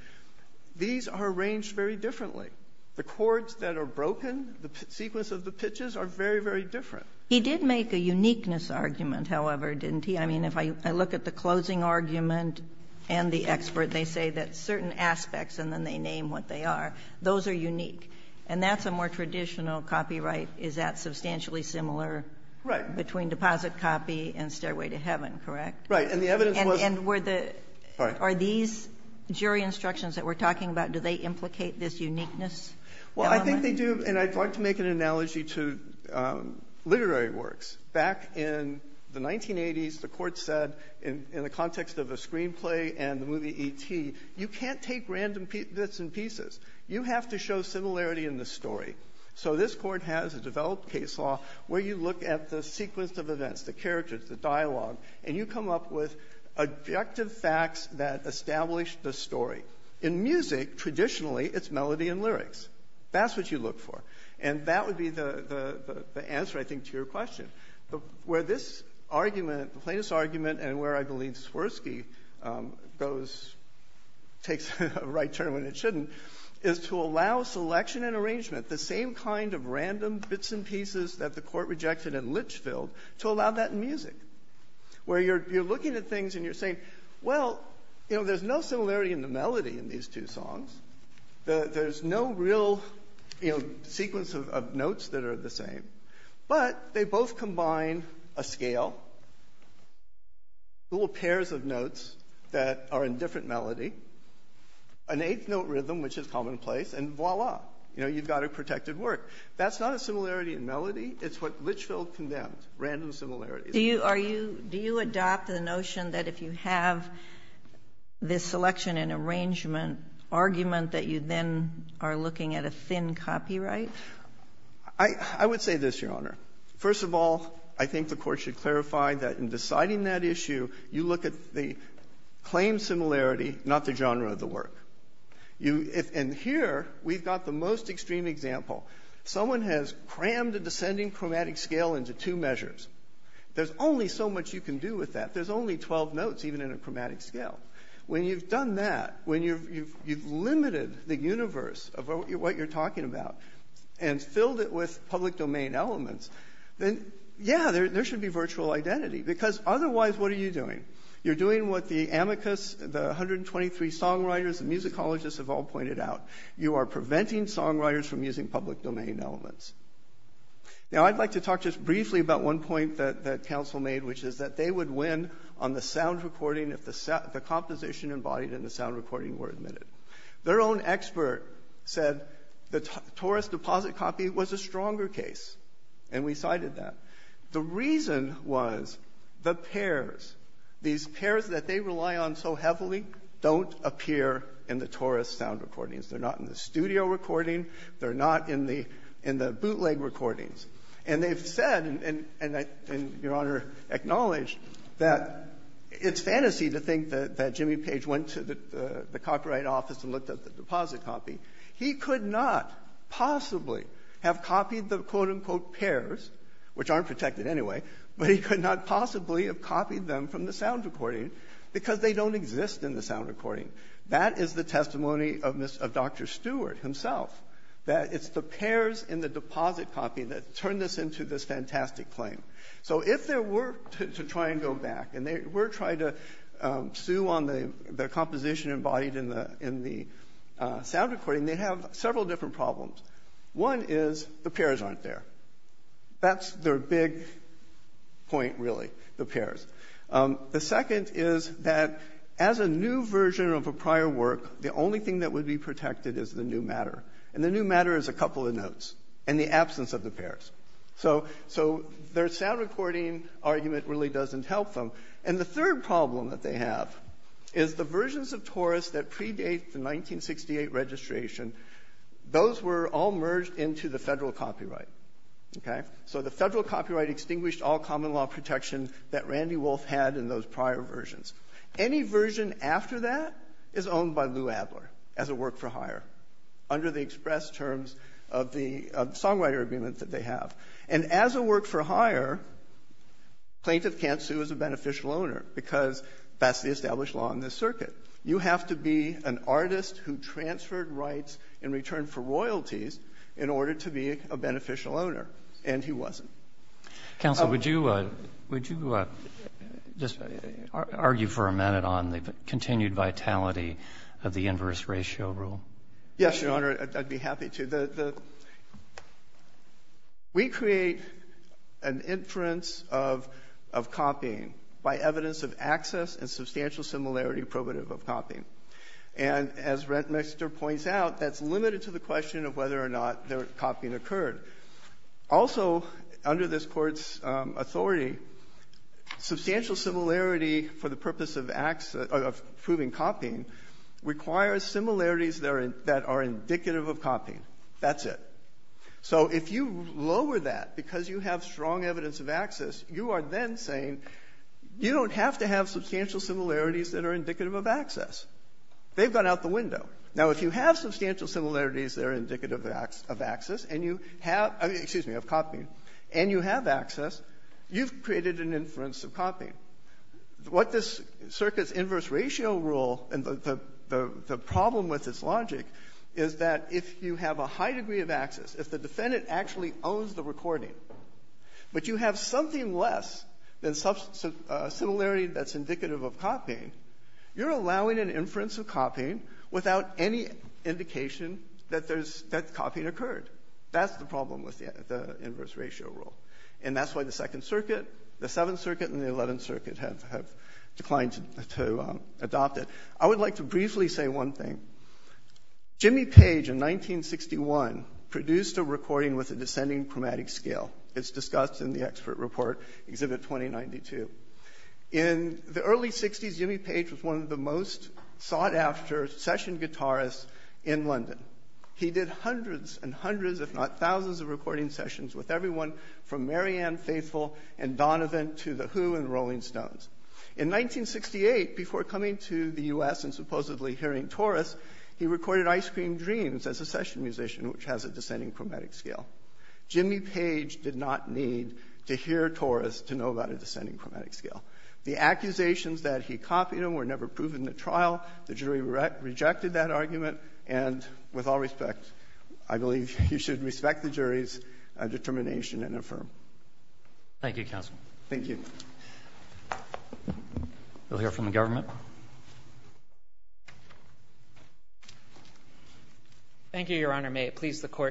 These are arranged very differently. The chords that are broken, the sequence of the pitches are very, very different. He did make a uniqueness argument, however, didn't he? I mean, if I look at the closing argument and the expert, they say that certain aspects, and then they name what they are, those are unique. And that's a more traditional copyright. Is that substantially similar? Right. Between deposit copy and stairway to heaven, correct? Right, and the evidence was- And were the- Right. Are these jury instructions that we're talking about, do they implicate this uniqueness element? Well, I think they do, and I'd like to make an analogy to literary works. Back in the 1980s, the court said, in the context of a screenplay and the movie E.T., you can't take random bits and pieces. You have to show similarity in the story. So this court has a developed case law where you look at the sequence of events, the characters, the dialogue, and you come up with objective facts that establish the story. In music, traditionally, it's melody and lyrics. That's what you look for. And that would be the answer, I think, to your question. Where this argument, the plaintiff's argument, and where I believe Swirsky goes, takes a right turn when it shouldn't, is to allow selection and arrangement, the same kind of random bits and pieces that the court rejected in Litchfield, to allow that in music. Where you're looking at things and you're saying, well, there's no similarity in the melody in these two songs. There's no real sequence of notes that are the same. But they both combine a scale, little pairs of notes that are in different melody, an eighth note rhythm, which is commonplace, and voila. You know, you've got a protected work. That's not a similarity in melody. It's what Litchfield condemned, random similarities. Do you adopt the notion that if you have this selection and arrangement argument that you then are looking at a thin copyright? I would say this, Your Honor. First of all, I think the court should clarify that in deciding that issue, you look at the claim similarity, not the genre of the work. And here, we've got the most extreme example. Someone has crammed a descending chromatic scale into two measures. There's only so much you can do with that. There's only 12 notes, even in a chromatic scale. When you've done that, when you've limited the universe of what you're talking about, and filled it with public domain elements, then, yeah, there should be virtual identity. Because otherwise, what are you doing? You're doing what the amicus, the 123 songwriters, the musicologists have all pointed out. You are preventing songwriters from using public domain elements. Now, I'd like to talk just briefly about one point that counsel made, which is that they would win on the sound recording if the composition embodied in the sound recording were admitted. Their own expert said the Taurus deposit copy was a stronger case, and we cited that. The reason was the pairs, these pairs that they rely on so heavily, don't appear in the Taurus sound recordings. They're not in the studio recording. They're not in the bootleg recordings. And they've said, and Your Honor acknowledged, that it's fantasy to think that Jimmy Page went to the copyright office and looked at the deposit copy. He could not possibly have copied the quote-unquote pairs, which aren't protected anyway, but he could not possibly have copied them from the sound recording because they don't exist in the sound recording. That is the testimony of Dr. Stewart himself, that it's the pairs in the deposit copy that turned this into this fantastic claim. So if there were to try and go back, and they were trying to sue on the composition embodied in the sound recording, they'd have several different problems. One is the pairs aren't there. That's their big point, really, the pairs. The second is that as a new version of a prior work, the only thing that would be protected is the new matter, and the new matter is a couple of notes and the absence of the pairs. So their sound recording argument really doesn't help them. And the third problem that they have is the versions of Taurus that predate the 1968 registration, those were all merged into the federal copyright. So the federal copyright extinguished all common law protection that Randy Wolf had in those prior versions. Any version after that is owned by Lou Adler as a work for hire under the express terms of the songwriter agreement that they have. And as a work for hire, plaintiff can't sue as a beneficial owner because that's the established law in this circuit. You have to be an artist who transferred rights in return for royalties in order to be a beneficial owner, and he wasn't. Counsel, would you just argue for a minute on the continued vitality of the inverse ratio rule? Yes, Your Honor, I'd be happy to. We create an inference of copying by evidence of access and substantial similarity probative of copying. And as Rettmeister points out, that's limited to the question of whether or not the copying occurred. Also, under this Court's authority, substantial similarity for the purpose of proving copying requires similarities that are indicative of copying. That's it. So if you lower that because you have strong evidence of access, you are then saying you don't have to have substantial similarities that are indicative of access. They've gone out the window. Now, if you have substantial similarities that are indicative of access and you have access, you've created an inference of copying. What this circuit's inverse ratio rule and the problem with its logic is that if you have a high degree of access, if the defendant actually owns the recording, but you have something less than similarity that's indicative of copying, you're allowing an inference of copying without any indication that copying occurred. That's the problem with the inverse ratio rule. And that's why the Second Circuit, the Seventh Circuit, and the Eleventh Circuit have declined to adopt it. I would like to briefly say one thing. Jimmy Page, in 1961, produced a recording with a descending chromatic scale. It's discussed in the expert report, Exhibit 2092. In the early 60s, Jimmy Page was one of the most sought-after session guitarists in London. He did hundreds and hundreds, if not thousands, of recording sessions with everyone from Marianne Faithfull and Donovan to the Who and the Rolling Stones. In 1968, before coming to the U.S. and supposedly hearing Taurus, he recorded Ice Cream Dreams as a session musician, which has a descending chromatic scale. Jimmy Page did not need to hear Taurus to know about a descending chromatic scale. The accusations that he copied were never proven in the trial. The jury rejected that argument. And with all respect, I believe you should respect the jury's determination and affirm. Thank you, counsel. Thank you. We'll hear from the government. Thank you, Your Honor.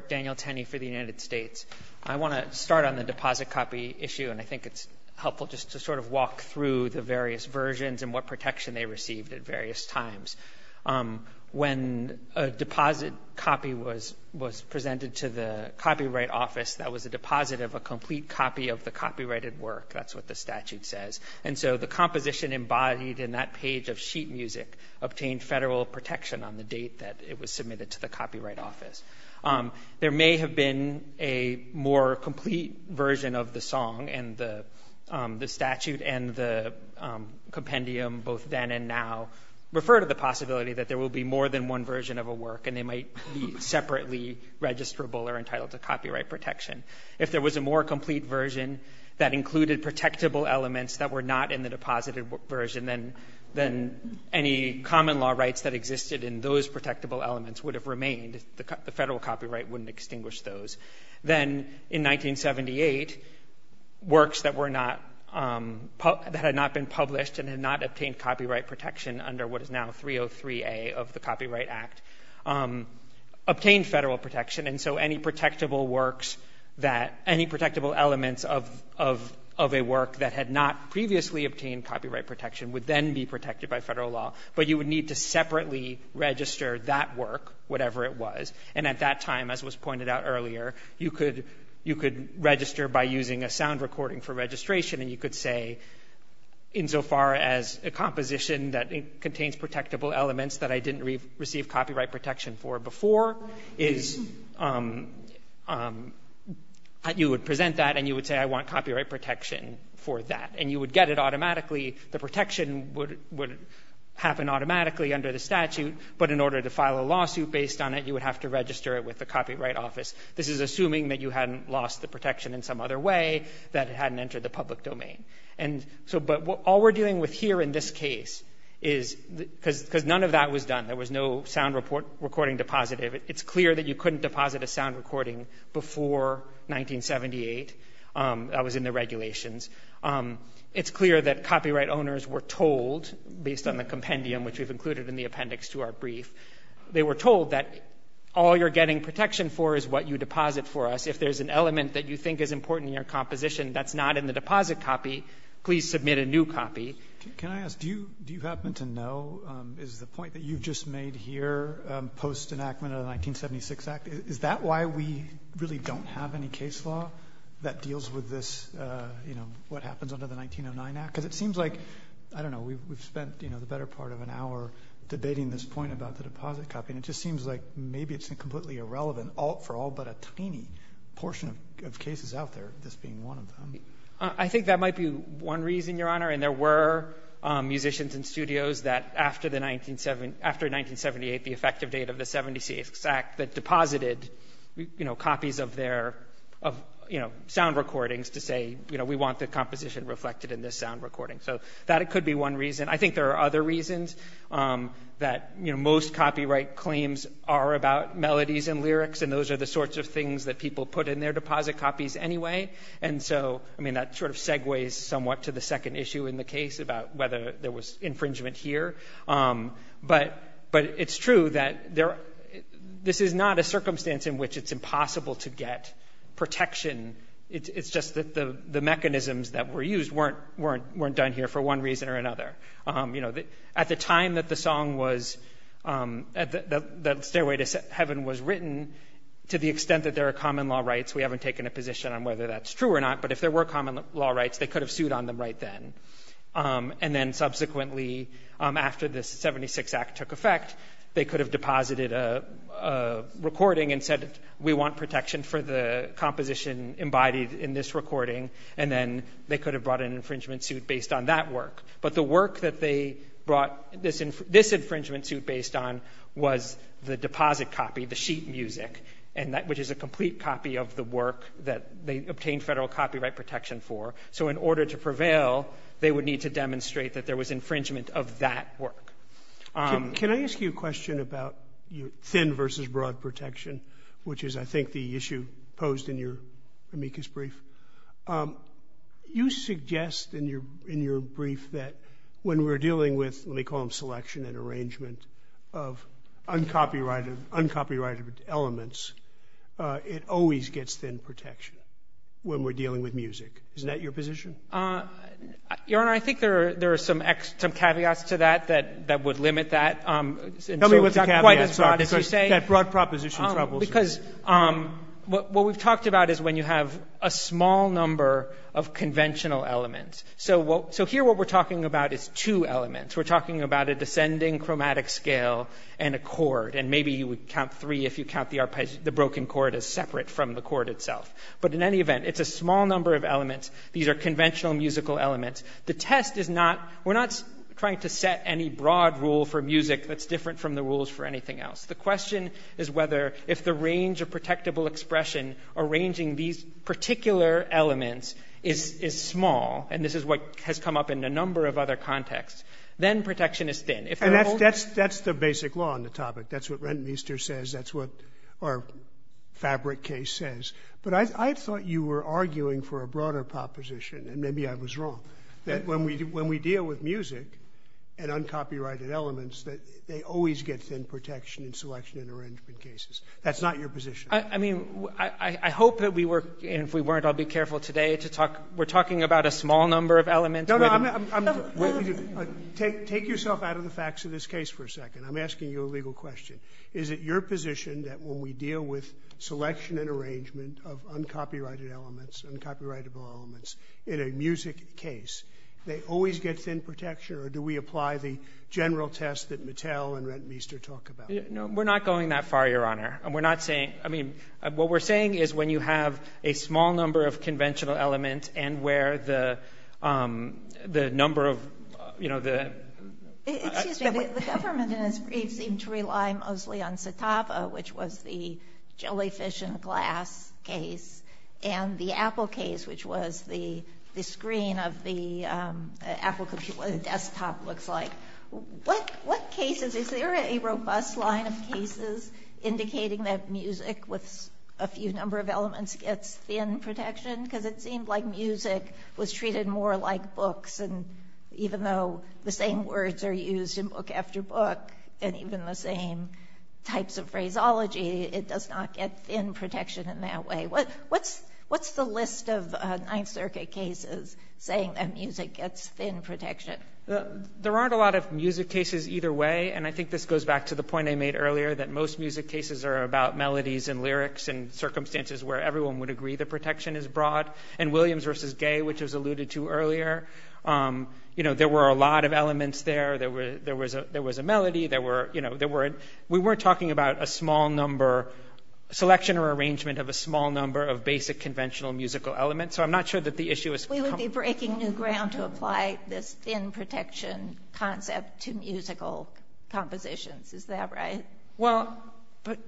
Daniel Tenney for the United States. I want to start on the deposit copy issue, and I think it's helpful just to sort of walk through the various versions and what protection they received at various times. When a deposit copy was presented to the Copyright Office, that was a deposit of a complete copy of the copyrighted work. That's what the statute says. And so the composition embodied in that page of sheet music obtained federal protection on the date that it was submitted to the Copyright Office. There may have been a more complete version of the song, and the statute and the compendium both then and now refer to the possibility that there will be more than one version of a work and they might be separately registrable or entitled to copyright protection. If there was a more complete version that included protectable elements that were not in the deposited version, then any common law rights that existed in those protectable elements would have remained. The federal copyright wouldn't extinguish those. Then in 1978, works that had not been published and had not obtained copyright protection under what is now 303A of the Copyright Act obtained federal protection, and so any protectable elements of a work that had not previously obtained copyright protection would then be protected by federal law. But you would need to separately register that work, whatever it was, and at that time, as was pointed out earlier, you could register by using a sound recording for registration and you could say, insofar as a composition that contains protectable elements that I didn't receive copyright protection for before, you would present that and you would say, I want copyright protection for that. And you would get it automatically. The protection would happen automatically under the statute, but in order to file a lawsuit based on it, you would have to register it with the Copyright Office. This is assuming that you hadn't lost the protection in some other way, that it hadn't entered the public domain. But all we're dealing with here in this case is, because none of that was done, there was no sound recording deposited. It's clear that you couldn't deposit a sound recording before 1978 that was in the regulations. It's clear that copyright owners were told, based on the compendium which we've included in the appendix to our brief, they were told that all you're getting protection for is what you deposit for us. If there's an element that you think is important in your composition that's not in the deposit copy, please submit a new copy. Can I ask, do you happen to know, is the point that you've just made here, post-enactment of the 1976 Act, is that why we really don't have any case law that deals with what happens under the 1909 Act? Because it seems like, I don't know, we've spent the better part of an hour debating this point about the deposit copy, and it just seems like maybe it's completely irrelevant for all but a tiny portion of cases out there, this being one of them. I think that might be one reason, Your Honor, and there were musicians and studios that, after 1978, the effective date of the 1976 Act, that deposited copies of their sound recordings to say, we want the composition reflected in this sound recording. So that could be one reason. I think there are other reasons that most copyright claims are about melodies and lyrics, and those are the sorts of things that people put in their deposit copies anyway. And so, I mean, that sort of segues somewhat to the second issue in the case about whether there was infringement here. But it's true that this is not a circumstance in which it's impossible to get protection. It's just that the mechanisms that were used weren't done here for one reason or another. At the time that the song was, that Stairway to Heaven was written, to the extent that there are common law rights, we haven't taken a position on whether that's true or not, but if there were common law rights, they could have sued on them right then. And then subsequently, after the 76 Act took effect, they could have deposited a recording and said we want protection for the composition embodied in this recording, and then they could have brought an infringement suit based on that work. But the work that they brought this infringement suit based on was the deposit copy, the sheet music, which is a complete copy of the work that they obtained federal copyright protection for. So in order to prevail, they would need to demonstrate that there was infringement of that work. Can I ask you a question about thin versus broad protection, which is, I think, the issue posed in your amicus brief? You suggest in your brief that when we're dealing with, let me call them selection and arrangement, of uncopyrighted elements, it always gets thin protection when we're dealing with music. Isn't that your position? Your Honor, I think there are some caveats to that that would limit that. Tell me what the caveats are. That broad proposition troubles me. Because what we've talked about is when you have a small number of conventional elements. So here what we're talking about is two elements. We're talking about a descending chromatic scale and a chord, and maybe you would count three if you count the broken chord as separate from the chord itself. But in any event, it's a small number of elements. These are conventional musical elements. The test is not, we're not trying to set any broad rule for music that's different from the rules for anything else. The question is whether, if the range of protectable expression arranging these particular elements is small, and this is what has come up in a number of other contexts, then protection is thin. That's the basic law on the topic. That's what Rentmeester says. That's what our Fabric case says. But I thought you were arguing for a broader proposition, and maybe I was wrong, that when we deal with music and uncopyrighted elements, that they always get thin protection in selection and arrangement cases. That's not your position. I mean, I hope that we were, and if we weren't, I'll be careful today to talk, we're talking about a small number of elements. No, no. Take yourself out of the facts of this case for a second. I'm asking you a legal question. Is it your position that when we deal with an arrangement of uncopyrighted elements, uncopyrightable elements in a music case, they always get thin protection, or do we apply the general test that Mattel and Rentmeester talk about? No, we're not going that far, Your Honor. And we're not saying, I mean, what we're saying is when you have a small number of conventional elements and where the number of, you know, the... Excuse me. The government, in its brief, seemed to rely mostly on Satava, which was the jellyfish-in-glass case, and the Apple case, which was the screen of the Apple computer, what a desktop looks like. What cases, is there a robust line of cases indicating that music with a few number of elements gets thin protection? Because it seemed like music was treated more like books, and even though the same words are used in book after book, and even the same types of phraseology, it does not get thin protection in that way. What's the list of Ninth Circuit cases saying that music gets thin protection? There aren't a lot of music cases either way, and I think this goes back to the point I made earlier that most music cases are about melodies and lyrics and circumstances where everyone would agree that protection is broad. In Williams v. Gay, which was alluded to earlier, you know, there were a lot of elements there. There was a melody. We weren't talking about a small number, selection or arrangement of a small number of basic conventional musical elements, so I'm not sure that the issue is... We would be breaking new ground to apply this thin protection concept to musical compositions. Is that right? Well,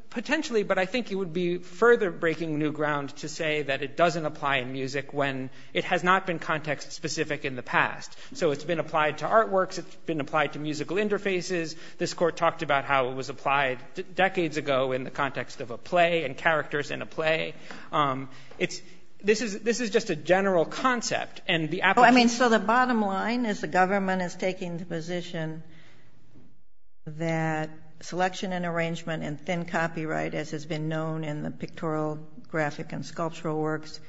potentially, but I think you would be further breaking new ground to say that it doesn't apply in music when it has not been context-specific in the past. So it's been applied to artworks. It's been applied to musical interfaces. This Court talked about how it was applied decades ago in the context of a play and characters in a play. This is just a general concept, and the application... I mean, so the bottom line is the government is taking the position that selection and arrangement and thin copyright, as has been known in the pictorial, graphic and sculptural works,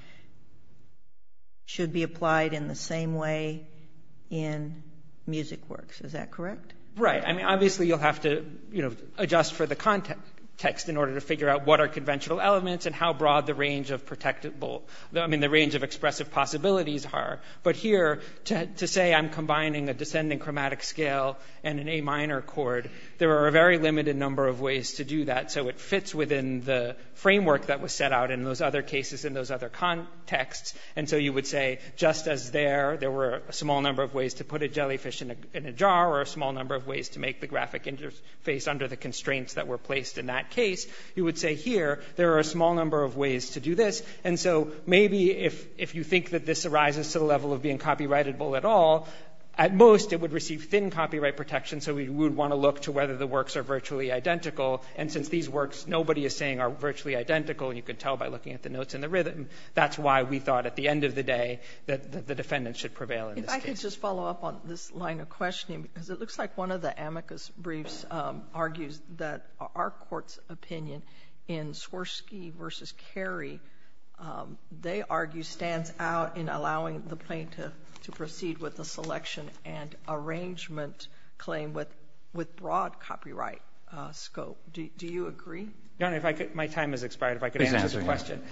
should be applied in the same way in music works. Is that correct? Right. I mean, obviously, you'll have to adjust for the context in order to figure out what are conventional elements and how broad the range of expressive possibilities are. But here, to say I'm combining a descending chromatic scale and an A minor chord, there are a very limited number of ways to do that, so it fits within the framework that was set out in those other cases in those other contexts. And so you would say, just as there, there were a small number of ways to put a jellyfish in a jar or a small number of ways to make the graphic interface under the constraints that were placed in that case, you would say here, there are a small number of ways to do this. And so maybe if you think that this arises to the level of being copyrightable at all, at most, it would receive thin copyright protection, so we would want to look to whether the works are virtually identical. And since these works, nobody is saying, are virtually identical, you can tell by looking at the notes and the rhythm, that's why we thought at the end of the day that the defendant should prevail in this case. If I could just follow up on this line of questioning, because it looks like one of the amicus briefs argues that our court's opinion in Swirsky v. Carey, they argue stands out in allowing the plaintiff to proceed with the selection and arrangement claim with broad copyright scope. Do you agree? My time has expired, if I could answer the question.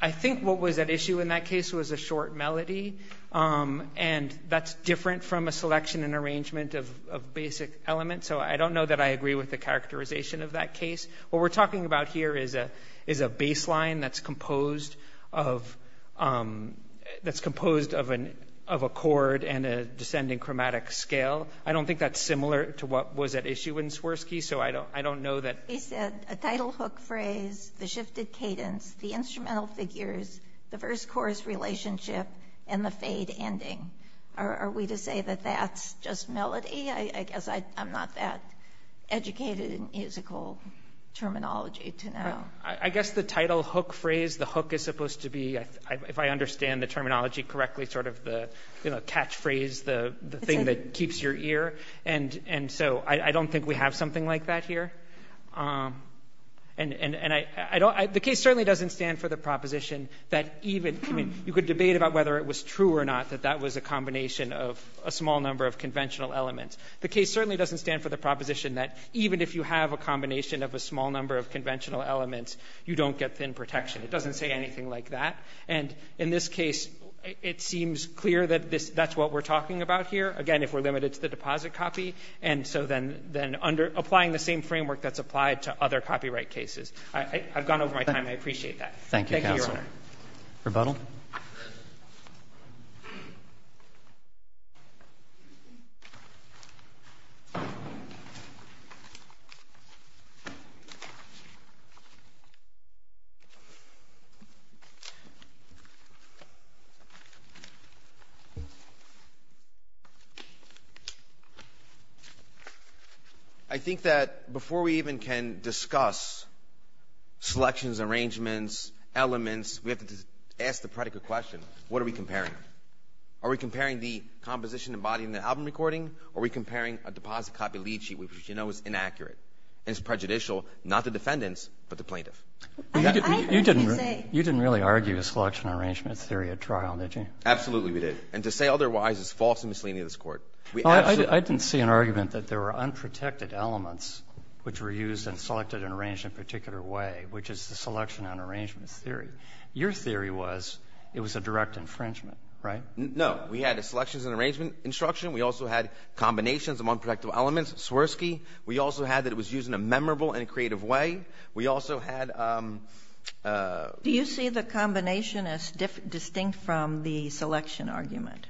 I think what was at issue in that case was a short melody, and that's different from a selection and arrangement of basic elements, so I don't know that I agree with the characterization of that case. What we're talking about here is a baseline that's composed of a chord and a descending chromatic scale. I don't think that's similar to what was at issue in Swirsky, so I don't know that... He said a title hook phrase, the shifted cadence, the instrumental figures, the verse-chorus relationship, and the fade ending. Are we to say that that's just melody? I guess I'm not that educated in musical terminology to know. I guess the title hook phrase, the hook is supposed to be, if I understand the terminology correctly, sort of the catchphrase, the thing that keeps your ear. I don't think we have something like that here. The case certainly doesn't stand for the proposition that even... You could debate about whether it was true or not that that was a combination of a small number of conventional elements. The case certainly doesn't stand for the proposition that even if you have a combination of a small number of conventional elements, you don't get thin protection. It doesn't say anything like that. In this case, it seems clear that that's what we're talking about here. Again, if we're limited to the deposit copy, and so then applying the same framework that's applied to other copyright cases. I've gone over my time. I appreciate that. Thank you, Your Honor. Thank you, counsel. Rebuttal? I think that before we even can discuss selections, arrangements, elements, we have to ask the predicate question, what are we comparing? Are we comparing the composition and body in the album recording, or are we comparing a deposit copy lead sheet which we know is inaccurate and is prejudicial, not the defendants, but the plaintiff? You didn't really argue a selection arrangement theory at trial, did you? Absolutely, we did. And to say otherwise is false and misleading to this Court. I didn't see an argument that there were unprotected elements which were used in a selected and arranged in a particular way, which is the selection and arrangements theory. Your theory was it was a direct infringement, right? No. We had a selections and arrangement instruction. We also had combinations of unprotected elements, Swirsky. We also had that it was used in a memorable and a creative way. We also had... Do you see the combination as distinct from the selection argument?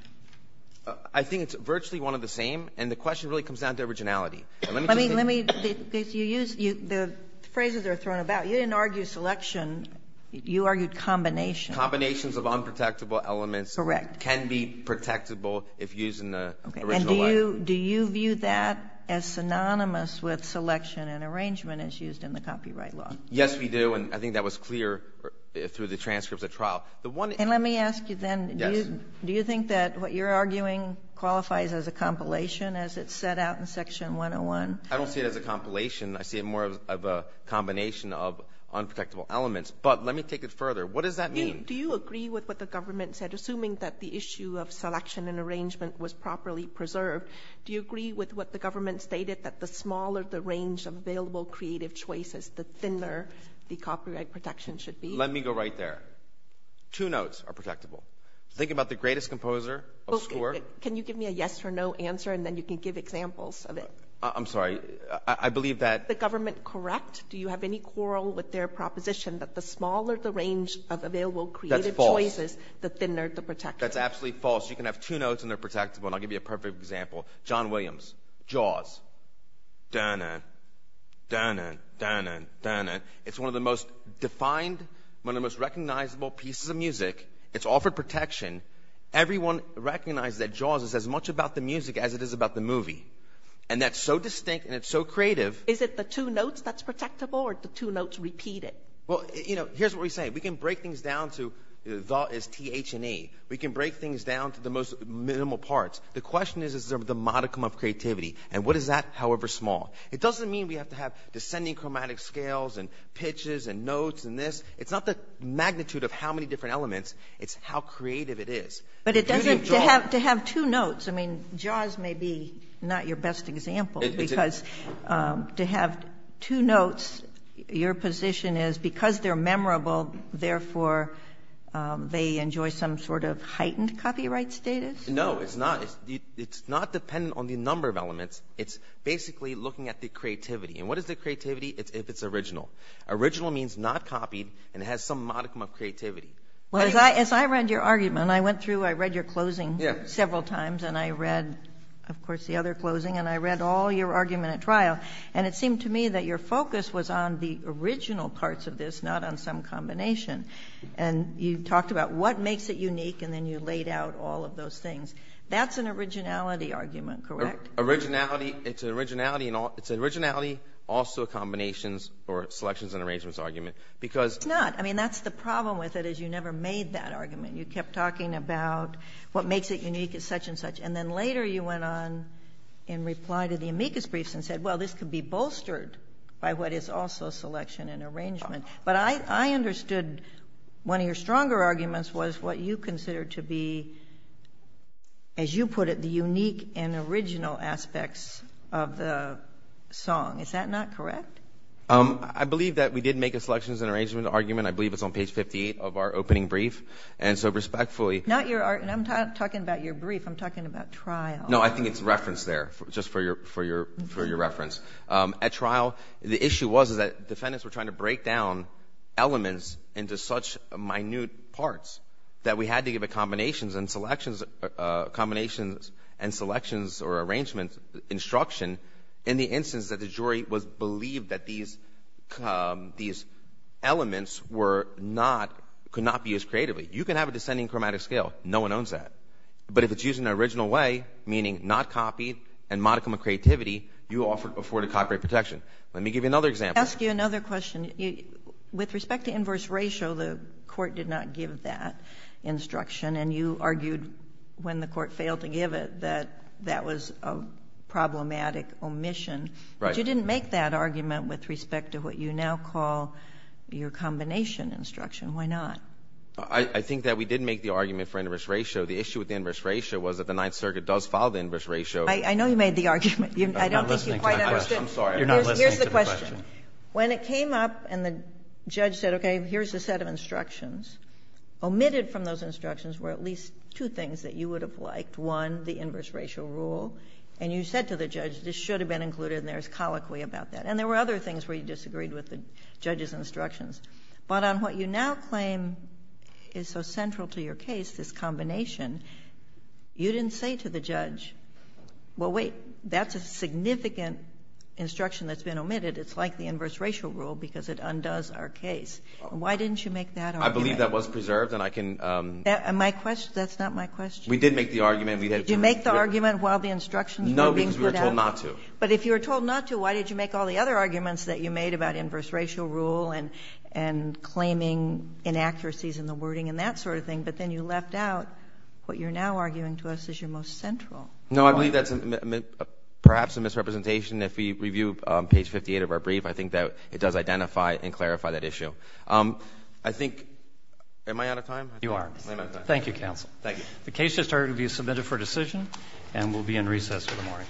I think it's virtually one of the same, and the question really comes down to originality. Let me... The phrases are thrown about. You didn't argue selection. You argued combination. Combinations of unprotectable elements... Correct. ...can be protectable if used in the original way. And do you view that as synonymous with selection and arrangement as used in the copyright law? Yes, we do, and I think that was clear through the transcripts at trial. And let me ask you then... Yes. Do you think that what you're arguing qualifies as a compilation as it's set out in Section 101? I don't see it as a compilation. I see it more of a combination of unprotectable elements. But let me take it further. What does that mean? Do you agree with what the government said, assuming that the issue of selection and arrangement was properly preserved? Do you agree with what the government stated, that the smaller the range of available creative choices, the thinner the copyright protection should be? Let me go right there. Two notes are protectable. Think about the greatest composer of score. Can you give me a yes or no answer, and then you can give examples of it? I'm sorry. I believe that... Is the government correct? Do you have any quarrel with their proposition that the smaller the range of available creative choices... That's false. ...the thinner the protection? That's absolutely false. You can have two notes, and they're protectable. And I'll give you a perfect example. John Williams, Jaws. Da-na, da-na, da-na, da-na. It's one of the most defined, one of the most recognizable pieces of music. It's offered protection. Everyone recognizes that Jaws is as much about the music as it is about the movie. And that's so distinct, and it's so creative. Is it the two notes that's protectable, or the two notes repeated? Well, you know, here's what we say. We can break things down to the as T, H, and E. We can break things down to the most minimal parts. The question is, is there the modicum of creativity? And what is that, however small? It doesn't mean we have to have descending chromatic scales and pitches and notes and this. It's not the magnitude of how many different elements. It's how creative it is. But it doesn't, to have two notes, I mean, Jaws may be not your best example, because to have two notes, your position is because they're memorable, therefore they enjoy some sort of heightened copyright status? No, it's not. It's not dependent on the number of elements. It's basically looking at the creativity. And what is the creativity if it's original? Original means not copied, and it has some modicum of creativity. Well, as I read your argument, I went through, I read your closing several times, and I read, of course, the other closing, and I read all your argument at trial, and it seemed to me that your focus was on the original parts of this, not on some combination. And you talked about what makes it unique, and then you laid out all of those things. That's an originality argument, correct? Originality, it's an originality, also a combinations or selections and arrangements argument. It's not. I mean, that's the problem with it is you never made that argument. You kept talking about what makes it unique as such and such, and then later you went on in reply to the amicus briefs and said, well, this could be bolstered by what is also selection and arrangement. But I understood one of your stronger arguments was what you considered to be, as you put it, the unique and original aspects of the song. Is that not correct? I believe that we did make a selections and arrangement argument. I believe it's on page 58 of our opening brief, and so respectfully... Not your, and I'm talking about your brief. I'm talking about trial. No, I think it's referenced there, just for your reference. At trial, the issue was that defendants were trying to break down elements into such minute parts that we had to give a combinations and selections or arrangements instruction in the instance that the jury was believed that these elements could not be used creatively. You can have a descending chromatic scale. No one owns that. But if it's used in an original way, meaning not copied, and modicum of creativity, you afford a copyright protection. Let me give you another example. I'll ask you another question. With respect to inverse ratio, the court did not give that instruction, and you argued when the court failed to give it that that was a problematic omission. Right. But you didn't make that argument with respect to what you now call your combination instruction. Why not? I think that we did make the argument for inverse ratio. The issue with the inverse ratio was that the Ninth Circuit does follow the inverse ratio. I know you made the argument. I don't think you quite understood. I'm sorry. You're not listening to the question. When it came up and the judge said, okay, here's a set of instructions, omitted from those instructions were at least two things that you would have liked. One, the inverse ratio rule. And you said to the judge, this should have been included, and there's colloquy about that. And there were other things where you disagreed with the judge's instructions. But on what you now claim is so central to your case, this combination, you didn't say to the judge, well, wait, that's a significant instruction that's been omitted. It's like the inverse ratio rule because it undoes our case. Why didn't you make that argument? I believe that was preserved, and I can... That's not my question. We did make the argument. Did you make the argument while the instructions were being put out? No, because we were told not to. But if you were told not to, why did you make all the other arguments that you made about inverse ratio rule and claiming inaccuracies in the wording and that sort of thing? But then you left out what you're now arguing to us is your most central point. No, I believe that's perhaps a misrepresentation. If we review page 58 of our brief, I think that it does identify and clarify that issue. I think... Am I out of time? You are. Am I out of time? Thank you, counsel. Thank you. The case has started to be submitted for decision and will be in recess for the morning. All rise.